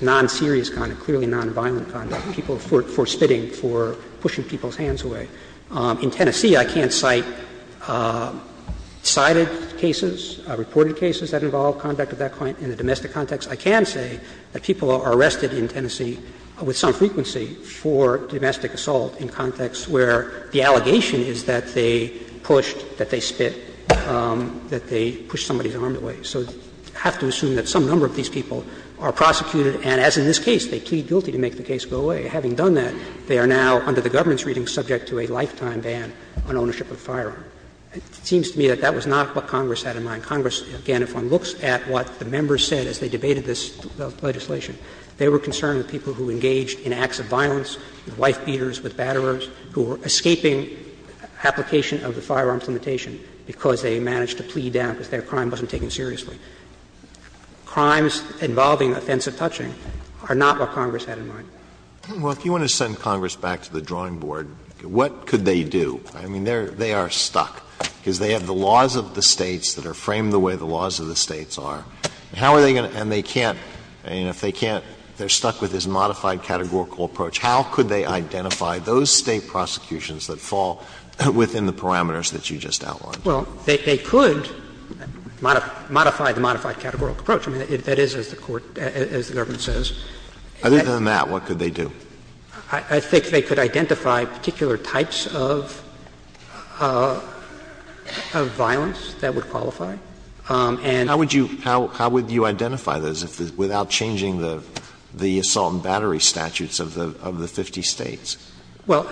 non-serious conduct, clearly non-violent conduct, people for spitting, for pushing people's hands away. In Tennessee, I can't cite cited cases, reported cases that involve conduct of that kind in the domestic context. I can say that people are arrested in Tennessee with some frequency for domestic assault in contexts where the allegation is that they pushed, that they spit, that they pushed somebody's arm away. So you have to assume that some number of these people are prosecuted, and as in this case, they plead guilty to make the case go away. Having done that, they are now under the government's reading subject to a lifetime ban on ownership of a firearm. It seems to me that that was not what Congress had in mind. Congress, again, if one looks at what the members said as they debated this legislation, they were concerned with people who engaged in acts of violence, with wife-beaters, with batterers, who were escaping application of the firearms limitation because they managed to plead down because their crime wasn't taken seriously. Crimes involving offensive touching are not what Congress had in mind. Alito, if you want to send Congress back to the drawing board, what could they do? I mean, they are stuck, because they have the laws of the States that are framed the way the laws of the States are. How are they going to — and they can't — and if they can't, they're stuck with this modified categorical approach. How could they identify those State prosecutions that fall within the parameters that you just outlined? Well, they could modify the modified categorical approach. I mean, that is, as the Court — as the government says. Other than that, what could they do? I think they could identify particular types of violence that would qualify. And how would you — how would you identify those without changing the assault and battery statutes of the 50 States? Well,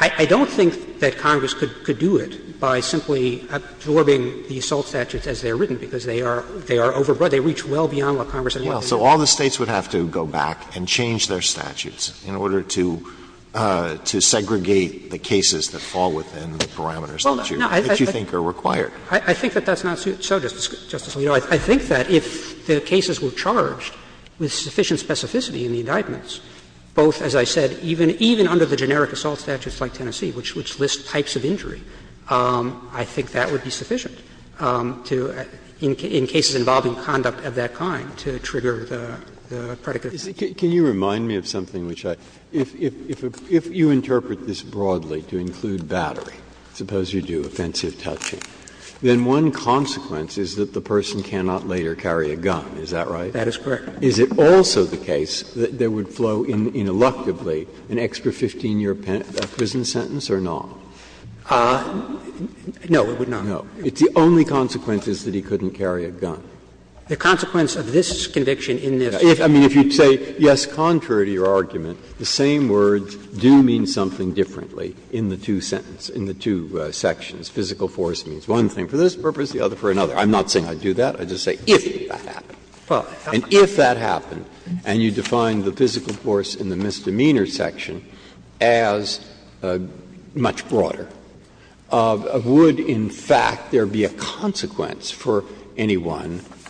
I don't think that Congress could do it by simply absorbing the assault statutes as they are written, because they are overbroad. They reach well beyond what Congress had in mind. So all the States would have to go back and change their statutes in order to segregate the cases that fall within the parameters that you think are required. I think that that's not so, Justice Alito. I think that if the cases were charged with sufficient specificity in the indictments, both, as I said, even under the generic assault statutes like Tennessee, which list types of injury, I think that would be sufficient to, in cases involving conduct of that kind, to trigger the predicate. Can you remind me of something which I — if you interpret this broadly to include battery, suppose you do offensive touching, then one consequence is that the person cannot later carry a gun. Is that right? That is correct. Is it also the case that there would flow ineluctably an extra 15-year prison sentence or not? No, it would not. No. The only consequence is that he couldn't carry a gun. The consequence of this conviction in this case is that he couldn't carry a gun. Breyer. I mean, if you say, yes, contrary to your argument, the same words do mean something differently in the two sentences, in the two sections. Physical force means one thing for this purpose, the other for another. I'm not saying I'd do that. I'd just say if that happened. And if that happened, and you define the physical force in the misdemeanor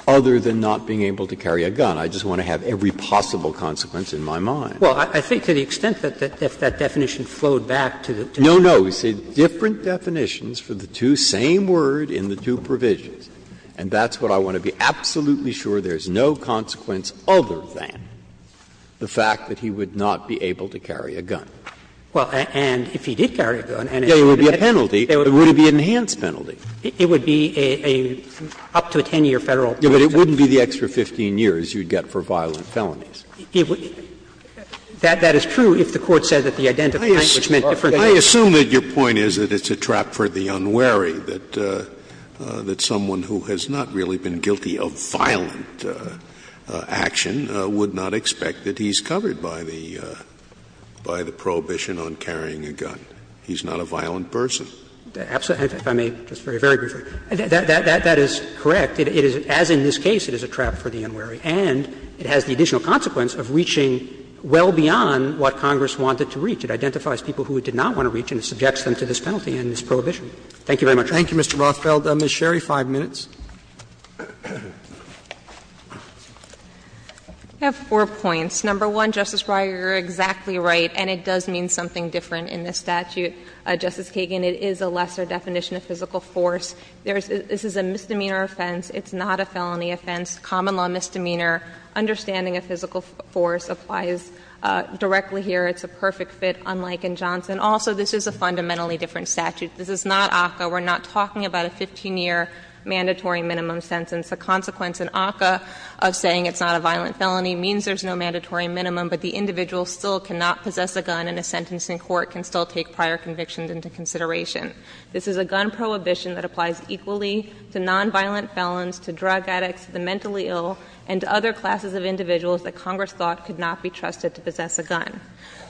other than not being able to carry a gun, I just want to have every possible consequence in my mind. Well, I think to the extent that if that definition flowed back to the two sentences No, no. We say different definitions for the two, same word in the two provisions. And that's what I want to be absolutely sure there's no consequence other than the fact that he would not be able to carry a gun. Well, and if he did carry a gun, and it would be a penalty, it would be an enhanced penalty. It would be a up to a 10-year Federal penalty. But it wouldn't be the extra 15 years you'd get for violent felonies. That is true if the Court says that the identical point, which meant different things. I assume that your point is that it's a trap for the unwary, that someone who has not really been guilty of violent action would not expect that he's covered by the prohibition on carrying a gun. He's not a violent person. If I may, just very, very briefly, that is correct. It is, as in this case, it is a trap for the unwary. And it has the additional consequence of reaching well beyond what Congress wanted to reach. It identifies people who it did not want to reach and it subjects them to this penalty and this prohibition. Thank you very much, Your Honor. Thank you, Mr. Rothfeld. Ms. Sherry, 5 minutes. I have four points. Number one, Justice Breyer, you're exactly right, and it does mean something different in this statute. Justice Kagan, it is a lesser definition of physical force. This is a misdemeanor offense. It's not a felony offense. Common law misdemeanor, understanding a physical force applies directly here. It's a perfect fit, unlike in Johnson. Also, this is a fundamentally different statute. This is not ACCA. We're not talking about a 15-year mandatory minimum sentence. The consequence in ACCA of saying it's not a violent felony means there's no mandatory minimum, but the individual still cannot possess a gun and a sentence in court can still take prior convictions into consideration. This is a gun prohibition that applies equally to nonviolent felons, to drug addicts, to the mentally ill, and to other classes of individuals that Congress thought could not be trusted to possess a gun.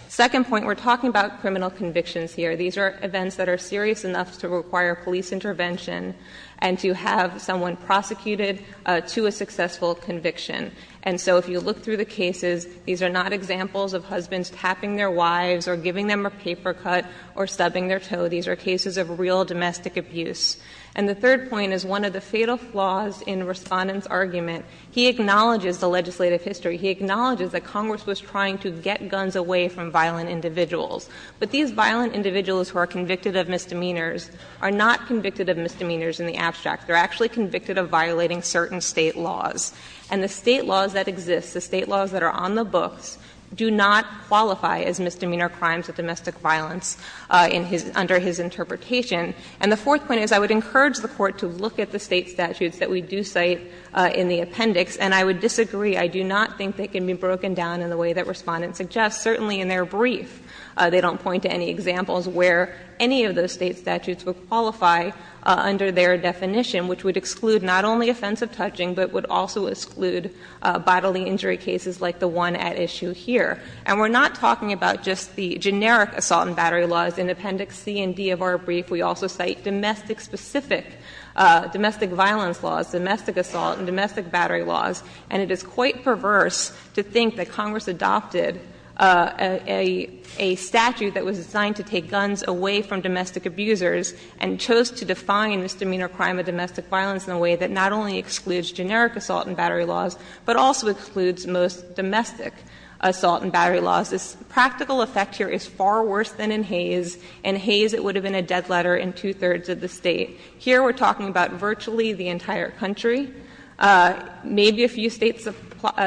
Second point, we're talking about criminal convictions here. These are events that are serious enough to require police intervention and to have someone prosecuted to a successful conviction. And so if you look through the cases, these are not examples of husbands tapping their wives or giving them a paper cut or stubbing their toe. These are cases of real domestic abuse. And the third point is one of the fatal flaws in Respondent's argument. He acknowledges the legislative history. He acknowledges that Congress was trying to get guns away from violent individuals. But these violent individuals who are convicted of misdemeanors are not convicted of misdemeanors in the abstract. They're actually convicted of violating certain state laws. And the state laws that exist, the state laws that are on the books, do not qualify as misdemeanor crimes of domestic violence under his interpretation. And the fourth point is I would encourage the Court to look at the state statutes that we do cite in the appendix, and I would disagree. I do not think they can be broken down in the way that Respondent suggests. Certainly in their brief, they don't point to any examples where any of those state statutes would qualify under their definition, which would exclude not only offensive touching, but would also exclude bodily injury cases like the one at issue here. And we're not talking about just the generic assault and battery laws. In appendix C and D of our brief, we also cite domestic-specific, domestic violence laws, domestic assault, and domestic battery laws. And it is quite perverse to think that Congress adopted a statute that was designed to take guns away from domestic abusers. And chose to define misdemeanor crime of domestic violence in a way that not only excludes generic assault and battery laws, but also excludes most domestic assault and battery laws. This practical effect here is far worse than in Hayes. In Hayes, it would have been a dead letter in two-thirds of the State. Here, we're talking about virtually the entire country, maybe a few States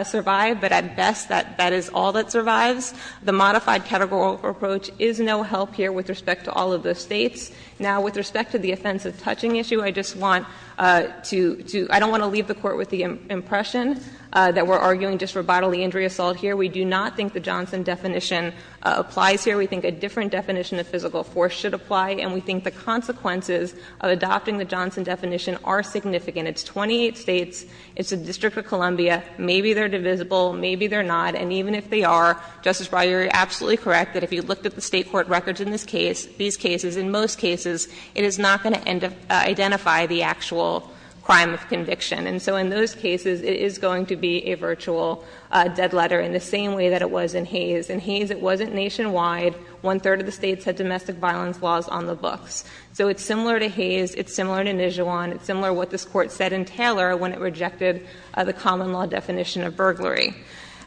survive, but at best, that is all that survives. The modified categorical approach is no help here with respect to all of those States. Now, with respect to the offensive touching issue, I just want to, I don't want to leave the Court with the impression that we're arguing just for bodily injury assault here. We do not think the Johnson definition applies here. We think a different definition of physical force should apply, and we think the consequences of adopting the Johnson definition are significant. It's 28 States, it's the District of Columbia, maybe they're divisible, maybe they're not. And even if they are, Justice Breyer, you're absolutely correct that if you looked at the State court records in this case, these cases, in most cases, it is not going to identify the actual crime of conviction. And so in those cases, it is going to be a virtual dead letter in the same way that it was in Hayes. In Hayes, it wasn't nationwide. One-third of the States had domestic violence laws on the books. So it's similar to Hayes, it's similar to Nijuan, it's similar to what this Court said in Taylor when it rejected the common law definition of burglary.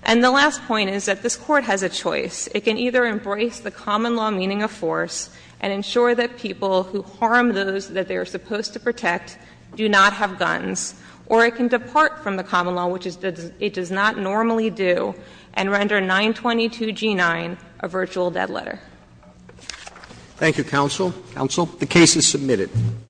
And the last point is that this Court has a choice. It can either embrace the common law meaning of force and ensure that people who harm those that they are supposed to protect do not have guns. Or it can depart from the common law, which it does not normally do, and render 922 G9 a virtual dead letter. Thank you, counsel. Counsel, the case is submitted.